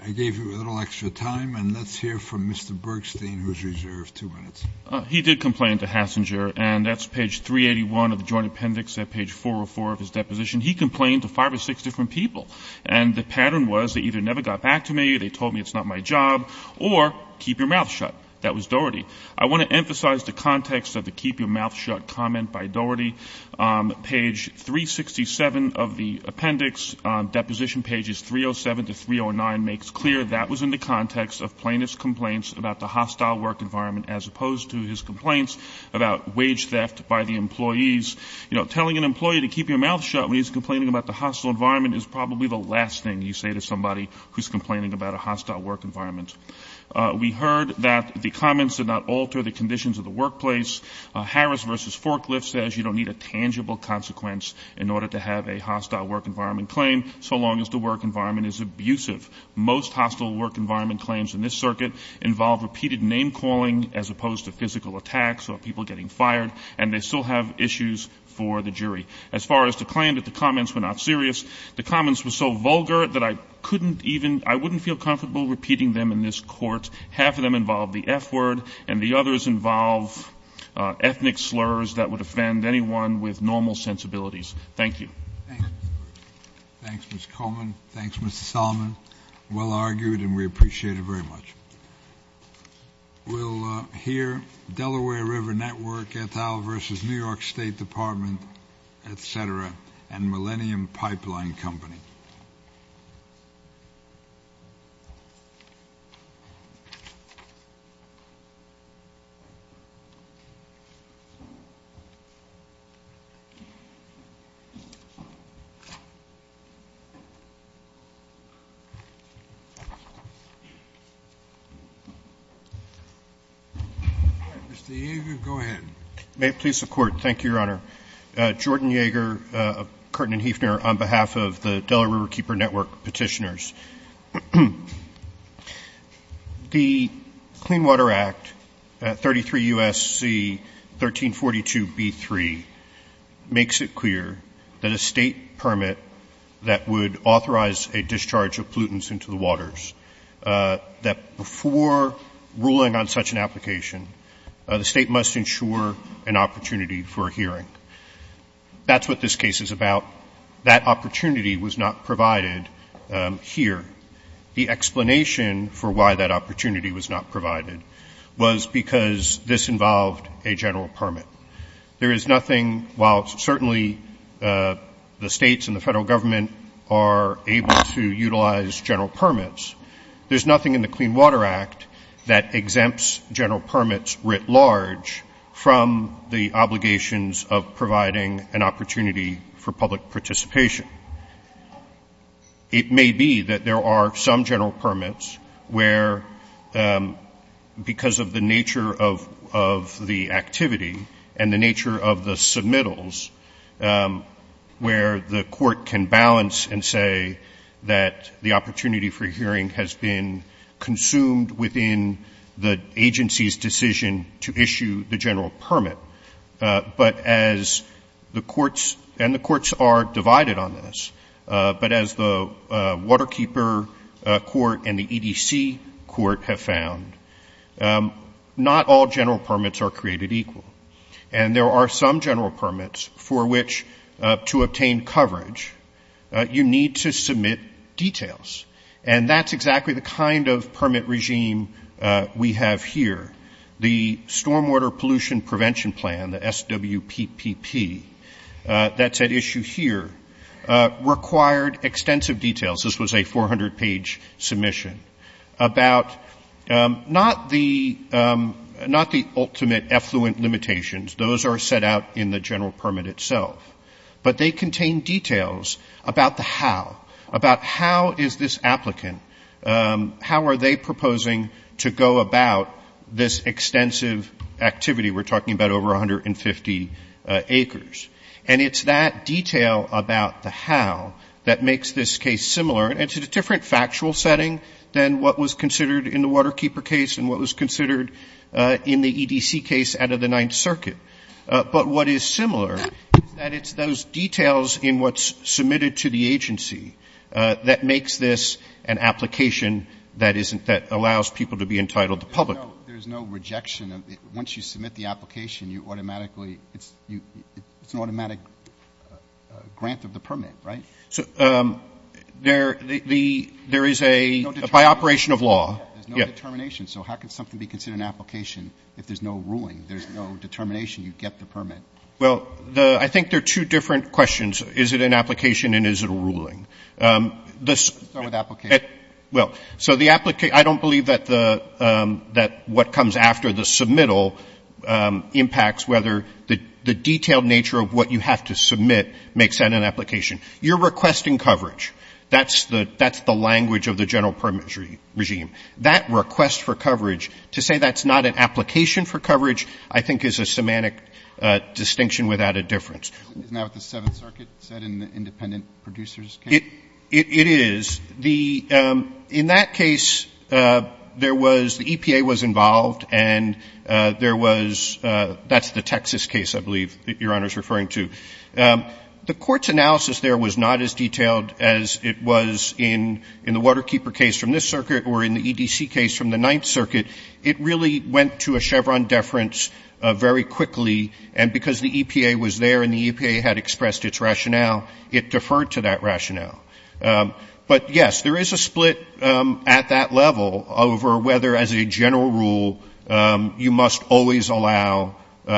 I gave you a little extra time, and let's hear from Mr. Bergstein, who is reserved two minutes. He did complain to Hassinger, and that's page 381 of the joint appendix at page 404 of his deposition. He complained to five or six different people, and the pattern was they either never got back to me, they told me it's not my job, or keep your mouth shut. That was Doherty. I want to emphasize the context of the keep your mouth shut comment by Doherty. Page 367 of the appendix, deposition pages 307 to 309, makes clear that was in the context of plaintiff's complaints about the hostile work environment as opposed to his complaints about wage theft by the employees. You know, telling an employee to keep your mouth shut when he's complaining about the hostile environment is probably the last thing you say to somebody who's complaining about a hostile work environment. We heard that the comments did not alter the conditions of the workplace. Harris v. Forklift says you don't need a tangible consequence in order to have a hostile work environment claim so long as the work environment is abusive. Most hostile work environment claims in this circuit involve repeated name calling as opposed to physical attacks or people getting fired, and they still have issues for the jury. As far as the claim that the comments were not serious, the comments were so vulgar that I couldn't even, I wouldn't feel comfortable repeating them in this court. Half of them involve the F word, and the others involve ethnic slurs that would offend anyone with normal sensibilities. Thank you. Thanks, Mr. Coleman. Thanks, Mr. Solomon. Well argued, and we appreciate it very much. We'll hear Delaware River Network, Et al. v. New York State Department, etc., and Millennium Pipeline Company. Mr. Yeager, go ahead. May it please the Court. Thank you, Your Honor. Jordan Yeager of Curtin & Hefner on behalf of the Delaware Riverkeeper Network petitioners. The Clean Water Act, 33 U.S.C. 1342b3, makes it clear that a state permit that would authorize a discharge of pollutants into the waters, that before ruling on such an application, the state must ensure an opportunity for a hearing. That's what this case is about. That opportunity was not provided here. The explanation for why that opportunity was not provided was because this involved a general permit. There is nothing, while certainly the states and the federal government are able to utilize general permits, there's nothing in the Clean Water Act that exempts general permits writ large from the obligations of providing an opportunity for public participation. It may be that there are some general permits where, because of the nature of the activity and the nature of the submittals, where the court can balance and say that the opportunity for a hearing has been consumed within the agency's decision to issue the general permit. But as the courts, and the courts are divided on this, but as the Waterkeeper Court and the EDC Court have found, not all general permits are created equal. And there are some general permits for which, to obtain coverage, you need to submit details. And that's exactly the kind of permit regime we have here. The Stormwater Pollution Prevention Plan, the SWPPP, that's at issue here, required extensive details. This was a 400-page submission about not the ultimate effluent limitations. Those are set out in the general permit itself. But they contain details about the how, about how is this applicant, how are they proposing to go about this extensive activity. We're talking about over 150 acres. And it's that detail about the how that makes this case similar. It's a different factual setting than what was considered in the Waterkeeper case and what was considered in the EDC case out of the Ninth Circuit. But what is similar, that it's those details in what's submitted to the agency that makes this an application that allows people to be entitled to public. There's no rejection. Once you submit the application, you automatically, it's an automatic grant of the permit, right? There is a, by operation of law. There's no determination. So how can something be considered an application if there's no ruling? There's no determination. You get the permit. Well, I think there are two different questions. Is it an application and is it a ruling? Start with application. Well, so the application, I don't believe that what comes after the submittal impacts whether the detailed nature of what you have to submit makes that an application. You're requesting coverage. That's the language of the general permit regime. That request for coverage, to say that's not an application for coverage, I think is a semantic distinction without a difference. Now with the Seventh Circuit, is that an independent producer's case? It is. In that case, there was, the EPA was involved, and there was, that's the Texas case, I believe, Your Honor is referring to. The court's analysis there was not as detailed as it was in the Waterkeeper case from this circuit or in the EDC case from the Ninth Circuit. It really went to a Chevron deference very quickly, and because the EPA was there and the EPA had expressed its rationale, it deferred to that rationale. But yes, there is a split at that level over whether, as a general rule, you must always allow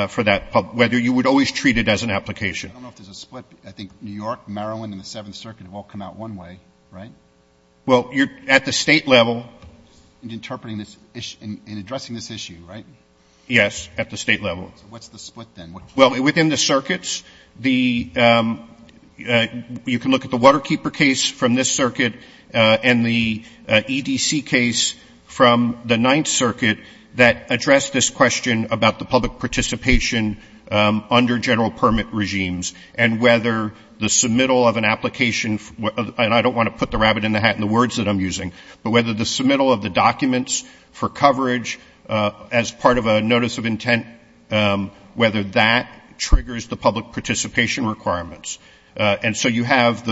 for that, whether you would always treat it as an application. I don't know if there's a split. I think New York, Maryland, and the Seventh Circuit have all come out one way, right? Well, at the state level. In addressing this issue, right? Yes, at the state level. What's the split then? Well, within the circuits, you can look at the Waterkeeper case from this circuit and the EDC case from the Ninth Circuit that addressed this question about the public participation under general permit regimes and whether the submittal of an application, and I don't want to put the rabbit in the hat in the words that I'm using, but whether the submittal of the documents for coverage as part of a notice of intent, whether that triggers the public participation requirements. And so you have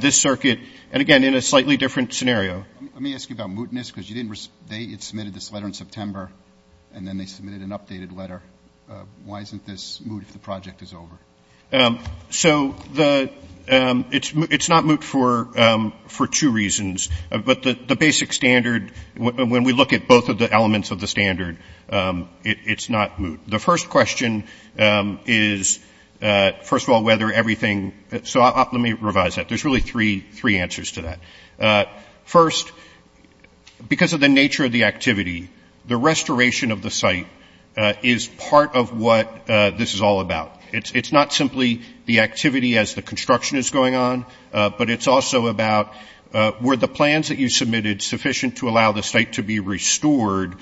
this circuit, and again, in a slightly different scenario. Let me ask you about mootness, because they submitted this letter in September, and then they submitted an updated letter. Why isn't this moot if the project is over? So it's not moot for two reasons. But the basic standard, when we look at both of the elements of the standard, it's not moot. The first question is, first of all, whether everything, so let me revise that. There's really three answers to that. First, because of the nature of the activity, the restoration of the site is part of what this is all about. It's not simply the activity as the construction is going on, but it's also about were the plans that you submitted sufficient to allow the site to be restored,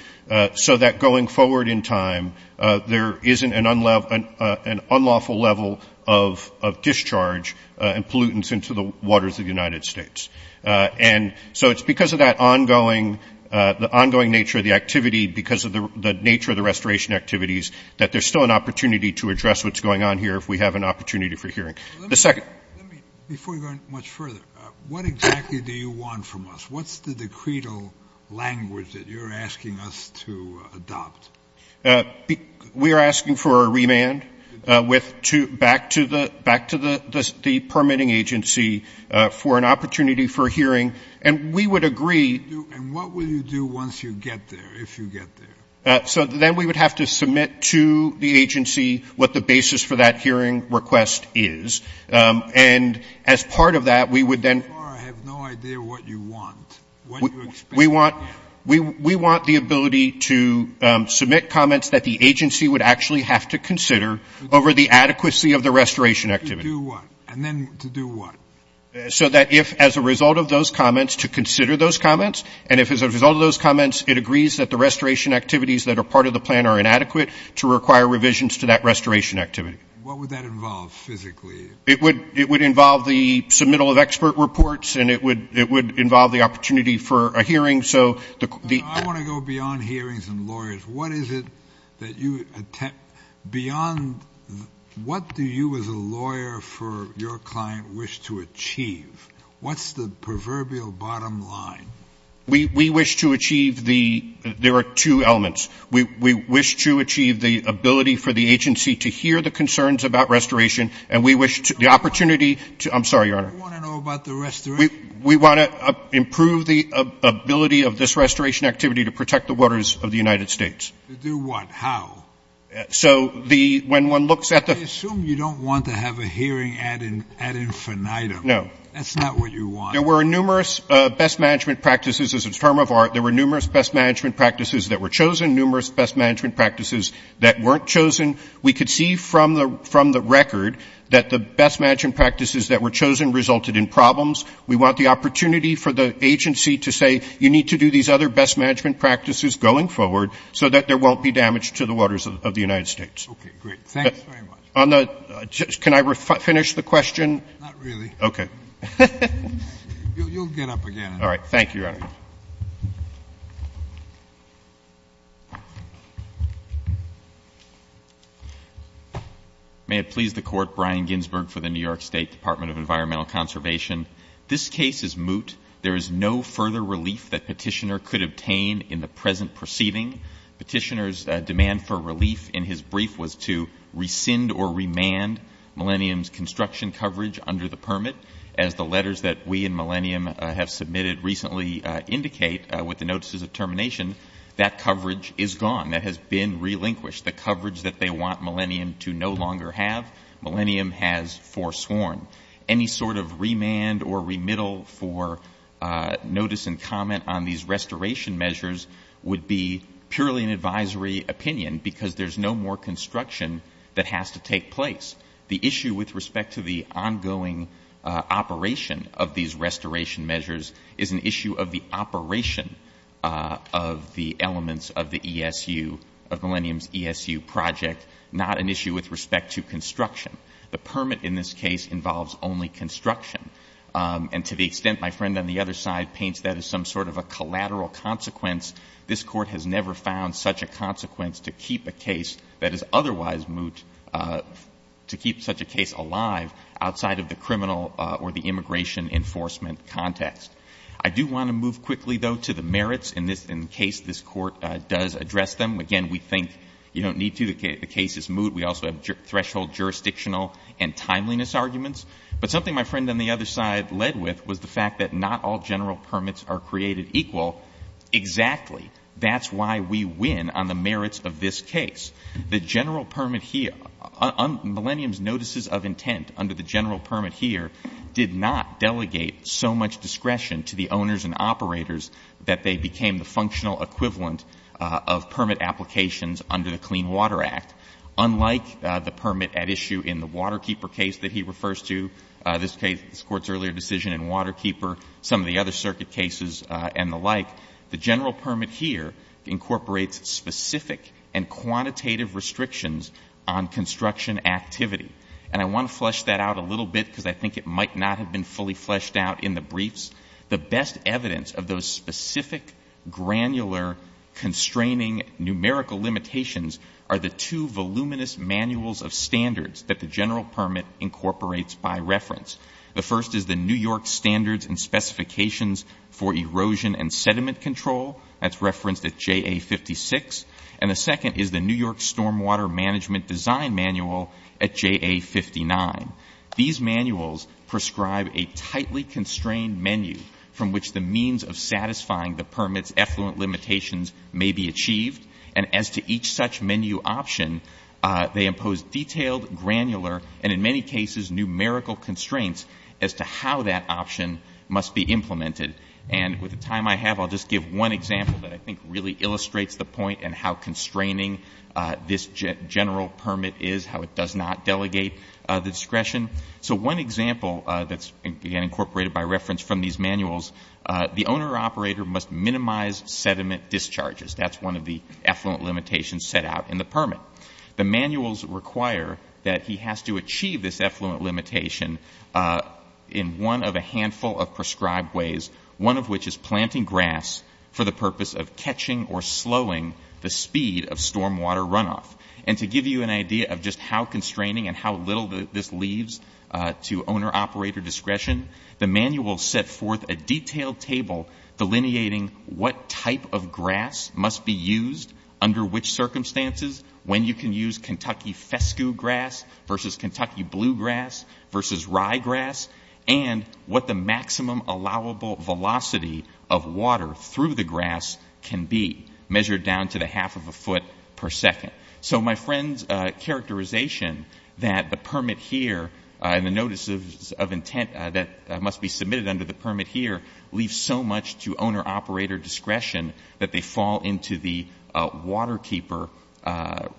so that going forward in time there isn't an unlawful level of discharge and pollutants into the waters of the United States. And so it's because of that ongoing nature of the activity, because of the nature of the restoration activities, that there's still an opportunity to address what's going on here if we have an opportunity for hearing. Before we go much further, what exactly do you want from us? What's the decreto language that you're asking us to adopt? We are asking for a remand back to the permitting agency for an opportunity for hearing. And we would agree. And what will you do once you get there, if you get there? So then we would have to submit to the agency what the basis for that hearing request is. And as part of that, we would then – I have no idea what you want. We want the ability to submit comments that the agency would actually have to consider over the adequacy of the restoration activity. To do what? And then to do what? So that if, as a result of those comments, to consider those comments, and if, as a result of those comments, it agrees that the restoration activities that are part of the plan are inadequate, to require revisions to that restoration activity. What would that involve physically? It would involve the submittal of expert reports, and it would involve the opportunity for a hearing. I want to go beyond hearings and lawyers. What is it that you – beyond – what do you as a lawyer for your client wish to achieve? What's the proverbial bottom line? We wish to achieve the – there are two elements. We wish to achieve the ability for the agency to hear the concerns about restoration, and we wish to – the opportunity to – I'm sorry, Your Honor. What do you want to know about the restoration? We want to improve the ability of this restoration activity to protect the waters of the United States. To do what? How? So the – when one looks at the – I assume you don't want to have a hearing ad infinitum. No. That's not what you want. There were numerous best management practices as a term of art. There were numerous best management practices that were chosen, numerous best management practices that weren't chosen. We could see from the record that the best management practices that were chosen resulted in problems. We want the opportunity for the agency to say you need to do these other best management practices going forward so that there won't be damage to the waters of the United States. Okay, great. Thanks very much. On the – can I finish the question? Not really. Okay. You'll get up again. All right. Thank you, Your Honor. May it please the Court, Brian Ginsberg for the New York State Department of Environmental Conservation. This case is moot. There is no further relief that Petitioner could obtain in the present proceeding. Petitioner's demand for relief in his brief was to rescind or remand Millennium's construction coverage under the permit. As the letters that we and Millennium have submitted recently indicate with the notices of termination, that coverage is gone. That has been relinquished. The coverage that they want Millennium to no longer have, Millennium has forsworn. Any sort of remand or remittal for notice and comment on these restoration measures would be purely an advisory opinion because there's no more construction that has to take place. The issue with respect to the ongoing operation of these restoration measures is an issue of the operation of the elements of the ESU, of Millennium's ESU project, not an issue with respect to construction. The permit in this case involves only construction. And to the extent my friend on the other side paints that as some sort of a collateral consequence, this Court has never found such a consequence to keep a case that is otherwise moot, to keep such a case alive outside of the criminal or the immigration enforcement context. I do want to move quickly, though, to the merits in case this Court does address them. Again, we think you don't need to. The case is moot. We also have threshold jurisdictional and timeliness arguments. But something my friend on the other side led with was the fact that not all general permits are created equal. Exactly. That's why we win on the merits of this case. The general permit here, Millennium's notices of intent under the general permit here, did not delegate so much discretion to the owners and operators that they became the functional equivalent of permit applications under the Clean Water Act. Unlike the permit at issue in the Waterkeeper case that he refers to, this Court's earlier decision in Waterkeeper, some of the other circuit cases and the like, the general permit here incorporates specific and quantitative restrictions on construction activity. And I want to flesh that out a little bit because I think it might not have been fully fleshed out in the briefs. The best evidence of those specific, granular, constraining, numerical limitations are the two voluminous manuals of standards that the general permit incorporates by reference. The first is the New York Standards and Specifications for Erosion and Sediment Control. That's referenced at JA56. And the second is the New York Stormwater Management Design Manual at JA59. These manuals prescribe a tightly constrained menu from which the means of satisfying the permit's effluent limitations may be achieved. And as to each such menu option, they impose detailed, granular, and in many cases, numerical constraints as to how that option must be implemented. And with the time I have, I'll just give one example that I think really illustrates the point and how constraining this general permit is, how it does not delegate the discretion. So one example that's, again, incorporated by reference from these manuals, the owner-operator must minimize sediment discharges. That's one of the effluent limitations set out in the permit. The manuals require that he has to achieve this effluent limitation in one of a handful of prescribed ways, one of which is planting grass for the purpose of catching or slowing the speed of stormwater runoff. And to give you an idea of just how constraining and how little this leads to owner-operator discretion, the manuals set forth a detailed table delineating what type of grass must be used under which circumstances, when you can use Kentucky fescue grass versus Kentucky bluegrass versus ryegrass, and what the maximum allowable velocity of water through the grass can be, measured down to the half of a foot per second. So my friend's characterization that the permit here and the notices of intent that must be submitted under the permit here leave so much to owner-operator discretion that they fall into the waterkeeper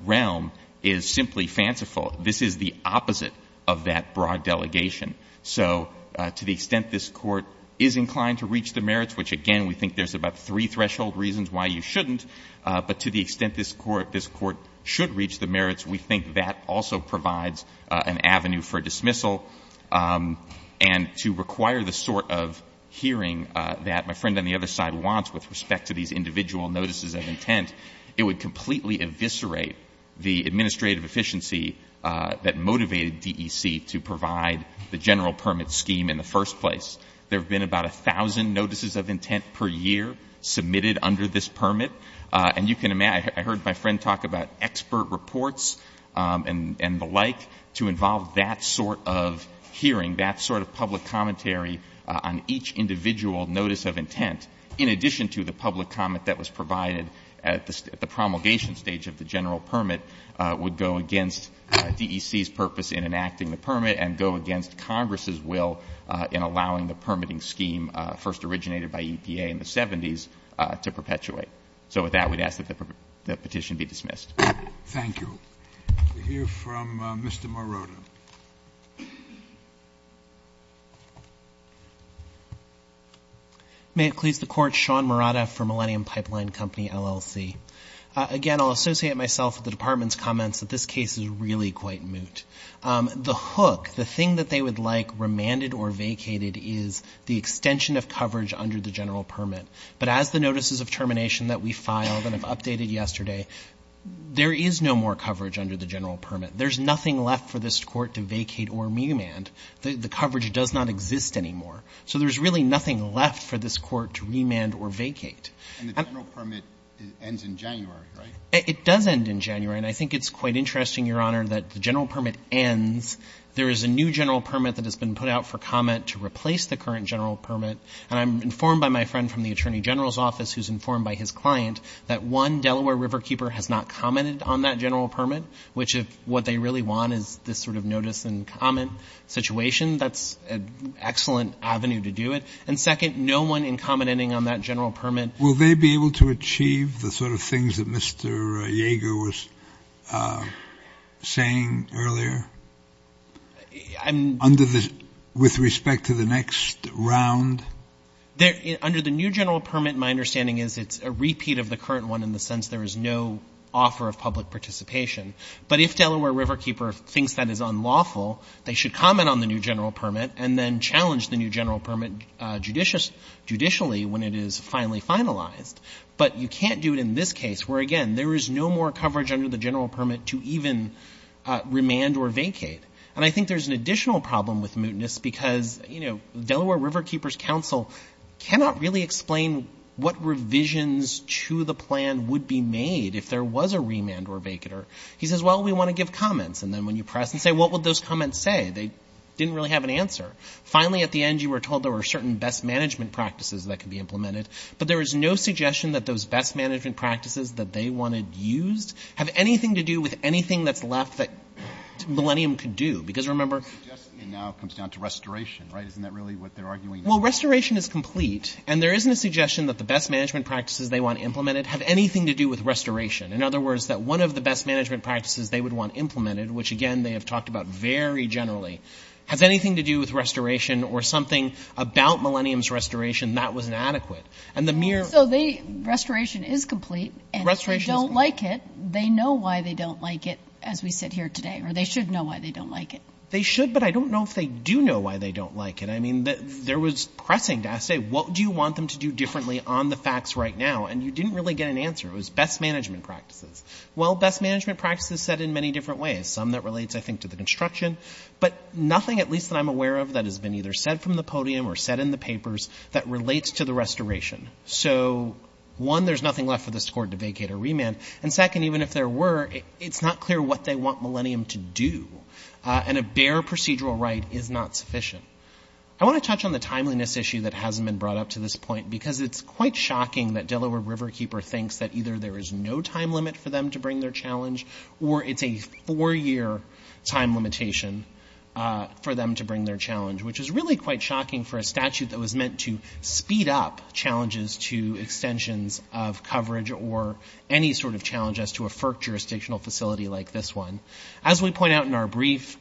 realm is simply fanciful. This is the opposite of that broad delegation. So to the extent this court is inclined to reach the merits, which, again, we think there's about three threshold reasons why you shouldn't, but to the extent this court should reach the merits, we think that also provides an avenue for dismissal. And to require the sort of hearing that my friend on the other side wants with respect to these individual notices of intent, it would completely eviscerate the administrative efficiency that motivated DEC to provide the general permit scheme in the first place. There have been about 1,000 notices of intent per year submitted under this permit, and I heard my friend talk about expert reports and the like to involve that sort of hearing, that sort of public commentary on each individual notice of intent, in addition to the public comment that was provided at the promulgation stage of the general permit, would go against DEC's purpose in enacting the permit and go against Congress's will in allowing the permitting scheme first originated by EPA in the 70s to perpetuate. So with that, we'd ask that the petition be dismissed. Thank you. We hear from Mr. Morota. Thank you. May it please the Court, Sean Morota for Millennium Pipeline Company, LLC. Again, I'll associate myself with the Department's comments that this case is really quite moot. The hook, the thing that they would like remanded or vacated is the extension of coverage under the general permit. But as the notices of termination that we filed and have updated yesterday, there is no more coverage under the general permit. There's nothing left for this Court to vacate or remand. The coverage does not exist anymore. So there's really nothing left for this Court to remand or vacate. And the general permit ends in January, right? It does end in January. And I think it's quite interesting, Your Honor, that the general permit ends. There is a new general permit that has been put out for comment to replace the current general permit. I'm informed by my friend from the Attorney General's Office who's informed by his client that one Delaware Riverkeeper has not commented on that general permit, which if what they really want is this sort of notice and comment situation, that's an excellent avenue to do it. And second, no one in commenting on that general permit. Will they be able to achieve the sort of things that Mr. Jaeger was saying earlier with respect to the next round? Under the new general permit, my understanding is it's a repeat of the current one in the sense there is no offer of public participation. But if Delaware Riverkeeper thinks that is unlawful, they should comment on the new general permit and then challenge the new general permit judicially when it is finally finalized. But you can't do it in this case where, again, there is no more coverage under the general permit to even remand or vacate. And I think there's an additional problem with mootness because Delaware Riverkeeper's counsel cannot really explain what revisions to the plan would be made if there was a remand or vacater. He says, well, we want to give comments. And then when you press and say, what would those comments say? They didn't really have an answer. Finally, at the end, you were told there were certain best management practices that could be implemented. But there is no suggestion that those best management practices that they wanted used have anything to do with anything that's left that Millennium could do. The suggestion now comes down to restoration. Isn't that really what they're arguing? Well, restoration is complete. And there isn't a suggestion that the best management practices they want implemented have anything to do with restoration. In other words, that one of the best management practices they would want implemented, which, again, they have talked about very generally, has anything to do with restoration or something about Millennium's restoration that was inadequate. So restoration is complete. And if they don't like it, they know why they don't like it, as we said here today. Or they should know why they don't like it. They should, but I don't know if they do know why they don't like it. I mean, there was pressing to say, what do you want them to do differently on the facts right now? And you didn't really get an answer. It was best management practices. Well, best management practices said in many different ways, some that relates, I think, to the construction, but nothing, at least that I'm aware of, that has been either said from the podium or said in the papers that relates to the restoration. So, one, there's nothing left of the score to vacate or remand. And second, even if there were, it's not clear what they want Millennium to do. And a bare procedural right is not sufficient. I want to touch on the timeliness issue that hasn't been brought up to this point because it's quite shocking that Delaware Riverkeeper thinks that either there is no time limit for them to bring their challenge or it's a four-year time limitation for them to bring their challenge, which is really quite shocking for a statute that was meant to speed up challenges to extensions of coverage or any sort of challenge as to a FERC jurisdictional facility like this one. As we point out in our brief,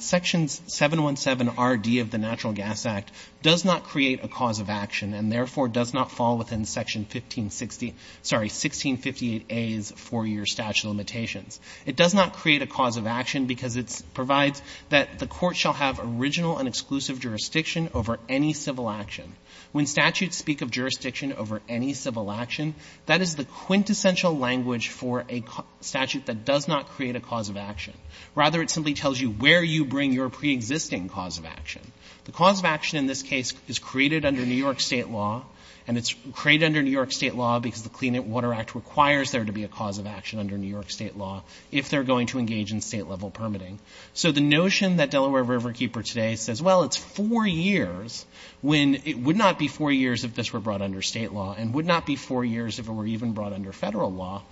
Section 717RD of the Natural Gas Act does not create a cause of action and therefore does not fall within Section 1658A's four-year statute of limitations. It does not create a cause of action because it provides that the court shall have original and exclusive jurisdiction over any civil action. When statutes speak of jurisdiction over any civil action, that is the quintessential language for a statute that does not create a cause of action. Rather, it simply tells you where you bring your preexisting cause of action. The cause of action in this case is created under New York state law and it's created under New York state law because the Clean Water Act requires there to be a cause of action under New York state law if they're going to engage in state-level permitting. So the notion that Delaware Riverkeeper today says, well, it's four years when it would not be four years if this were brought under state law and would not be four years if it were even brought under federal law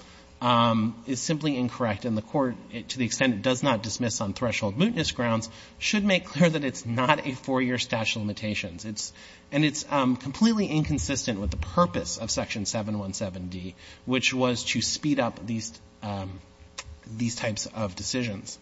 is simply incorrect and the court, to the extent it does not dismiss on threshold mootness grounds, should make clear that it's not a four-year statute of limitations. And it's completely inconsistent with the purpose of Section 717D, which was to speed up these types of decisions.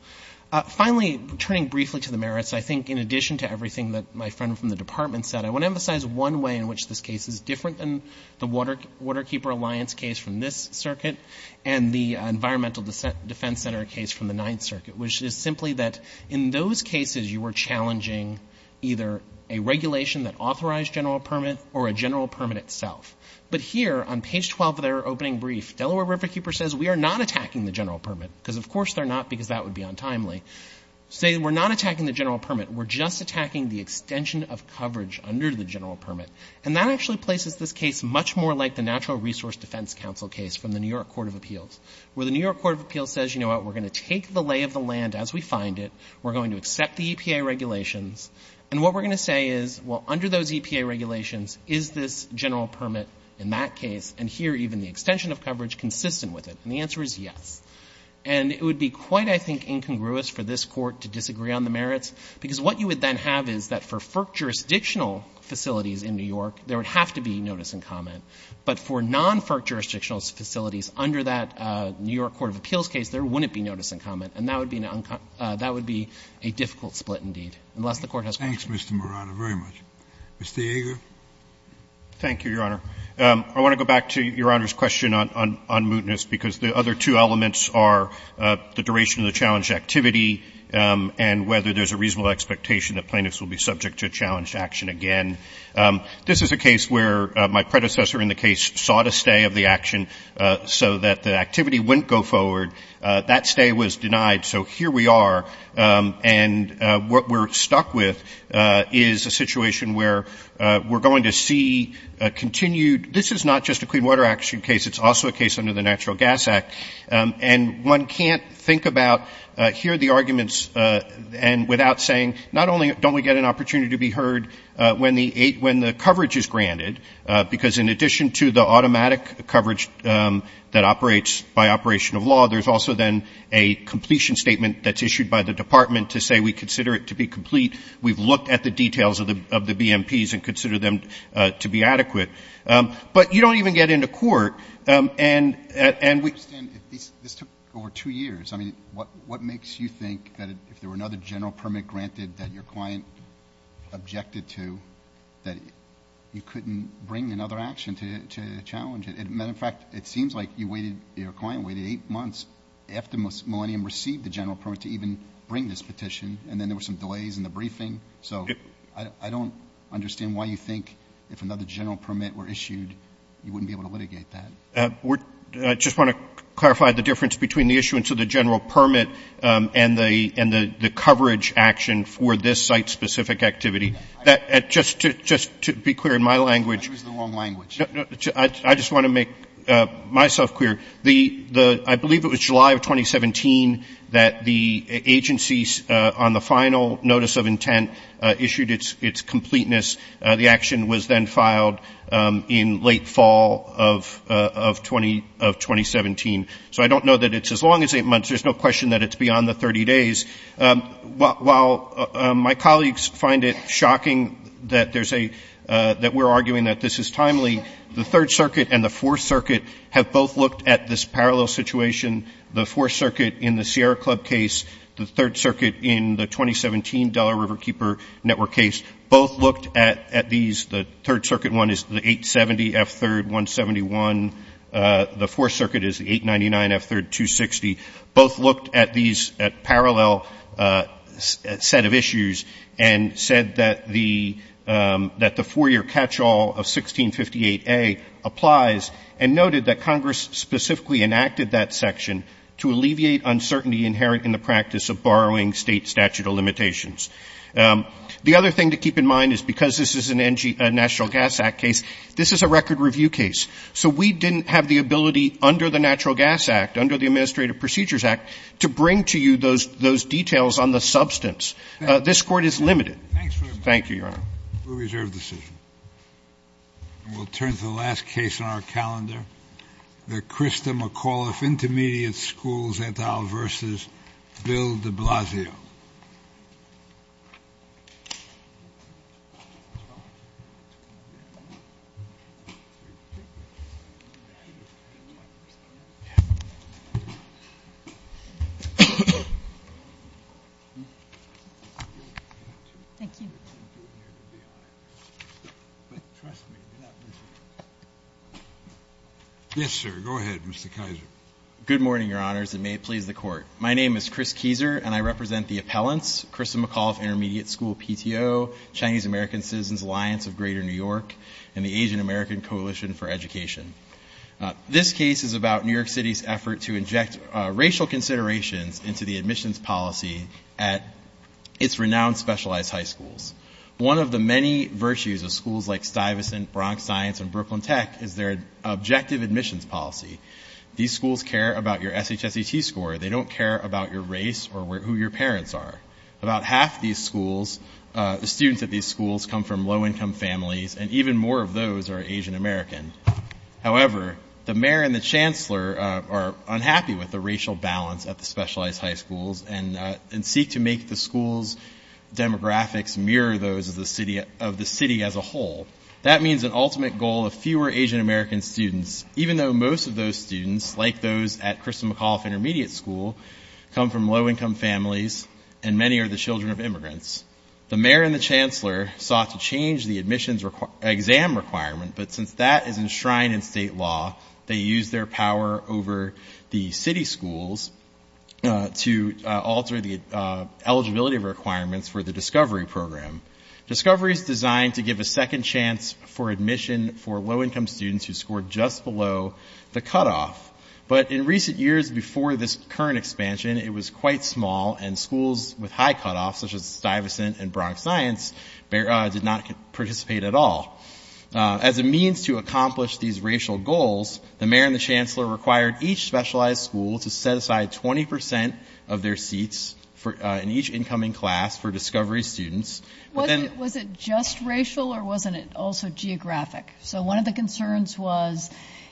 Finally, turning briefly to the merits, I think in addition to everything that my friend from the department said, I want to emphasize one way in which this case is different than the Waterkeeper Alliance case from this circuit and the Environmental Defense Center case from the Ninth Circuit, which is simply that in those cases you were challenging either a regulation that authorized general permit or a general permit itself. But here, on page 12 of their opening brief, Delaware Riverkeeper says we are not attacking the general permit because of course they're not because that would be untimely. They say we're not attacking the general permit. We're just attacking the extension of coverage under the general permit. And that actually places this case much more like the Natural Resource Defense Council case from the New York Court of Appeals, where the New York Court of Appeals says, you know what, we're going to take the lay of the land as we find it. We're going to accept the EPA regulations. And what we're going to say is, well, under those EPA regulations, is this general permit in that case and here even the extension of coverage consistent with it? And the answer is yes. And it would be quite, I think, incongruous for this Court to disagree on the merits because what you would then have is that for FERC jurisdictional facilities in New York, there would have to be notice and comment. But for non-FERC jurisdictional facilities under that New York Court of Appeals case, there wouldn't be notice and comment. And that would be a difficult split indeed, unless the Court has a motion. Thank you, Mr. Marano, very much. Mr. Yeager? Thank you, Your Honor. I want to go back to Your Honor's question on mootness because the other two elements are the duration of the challenge activity and whether there's a reasonable expectation that plaintiffs will be subject to challenge action again. This is a case where my predecessor in the case sought a stay of the action so that the activity wouldn't go forward. That stay was denied, so here we are. And what we're stuck with is a situation where we're going to see continued this is not just a Clean Water Action case, it's also a case under the Natural Gas Act. And one can't think about, hear the arguments without saying, not only don't we get an opportunity to be heard when the coverage is granted, because in addition to the automatic coverage that operates by operation of law, there's also then a completion statement that's issued by the Department to say we consider it to be complete. We've looked at the details of the BMPs and consider them to be adequate. But you don't even get into court. This took over two years. I mean, what makes you think that if there were another general permit granted that your client objected to that you couldn't bring another action to challenge it? As a matter of fact, it seems like your client waited eight months after Millennium received the general permit to even bring this petition, and then there were some delays in the briefing. So I don't understand why you think if another general permit were issued, you wouldn't be able to litigate that. I just want to clarify the difference between the issuance of the general permit and the coverage action for this site-specific activity. Just to be clear, in my language – You're using the wrong language. I just want to make myself clear. I believe it was July of 2017 that the agencies, on the final notice of intent, issued its completeness. The action was then filed in late fall of 2017. So I don't know that it's as long as eight months. There's no question that it's beyond the 30 days. While my colleagues find it shocking that we're arguing that this is timely, the Third Circuit and the Fourth Circuit have both looked at this parallel situation. The Fourth Circuit in the Sierra Club case, the Third Circuit in the 2017 Delaware Riverkeeper Network case, both looked at these. The Third Circuit one is the 870F3-171. The Fourth Circuit is the 899F3-260. Both looked at these parallel set of issues and said that the four-year catch-all of 1658A applies and noted that Congress specifically enacted that section to alleviate uncertainty inherent in the practice of borrowing state statute of limitations. The other thing to keep in mind is because this is a National Gas Act case, this is a record review case. So we didn't have the ability under the Natural Gas Act, under the Administrative Procedures Act, to bring to you those details on the substance. This court is limited. Thank you, Your Honor. We reserve the decision. And we'll turn to the last case on our calendar, the Christa McAuliffe Intermediate Schools et al. v. Bill de Blasio. Yes, sir. Go ahead, Mr. Keiser. Good morning, Your Honors, and may it please the Court. My name is Chris Keiser, and I represent the appellants, Christa McAuliffe Intermediate School PTO, Chinese American Citizens Alliance of Greater New York, and the Asian American Coalition for Education. This case is about New York City's effort to inject racial consideration into the admissions policy at its renowned specialized high schools. One of the many virtues of schools like Stuyvesant, Bronx Science, and Brooklyn Tech is their objective admissions policy. These schools care about your SHSET score. They don't care about your race or who your parents are. About half of these schools, the students at these schools, come from low-income families, and even more of those are Asian Americans. However, the mayor and the chancellor are unhappy with the racial balance at the specialized high schools and seek to make the school's demographics mirror those of the city as a whole. That means an ultimate goal of fewer Asian American students, even though most of those students, like those at Christa McAuliffe Intermediate School, come from low-income families and many are the children of immigrants. The mayor and the chancellor sought to change the admissions exam requirement, but since that is enshrined in state law, they used their power over the city schools to alter the eligibility requirements for the Discovery Program. Discovery is designed to give a second chance for admission for low-income students who scored just below the cutoff, but in recent years before this current expansion, it was quite small and schools with high cutoffs, such as Stuyvesant and Bronx Science, did not participate at all. As a means to accomplish these racial goals, the mayor and the chancellor required each specialized school to set aside 20% of their seats in each incoming class for Discovery students. Was it just racial or wasn't it also geographic? So one of the concerns was,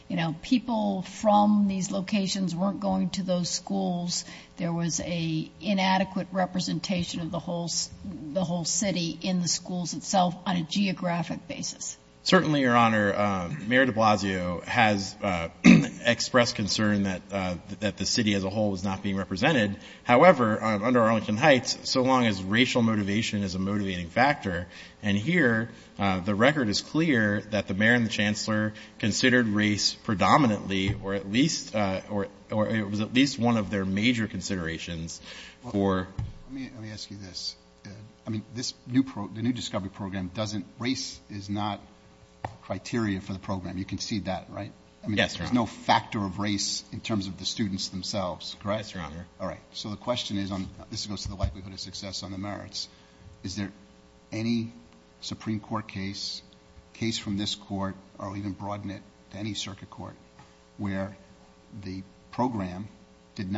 you know, people from these locations weren't going to those schools. There was an inadequate representation of the whole city in the schools itself on a geographic basis. Certainly, Your Honor, Mayor de Blasio has expressed concern that the city as a whole is not being represented. However, under Arlington Heights, so long as racial motivation is a motivating factor, considered race predominantly or at least one of their major considerations for... Let me ask you this. I mean, the new Discovery Program, race is not criteria for the program. You can see that, right? Yes, Your Honor. There's no factor of race in terms of the students themselves, correct? Yes, Your Honor. All right. So the question is, and this goes to the likelihood of success on the merits, is there any Supreme Court case, case from this court or even broad net, any circuit court where the program did not...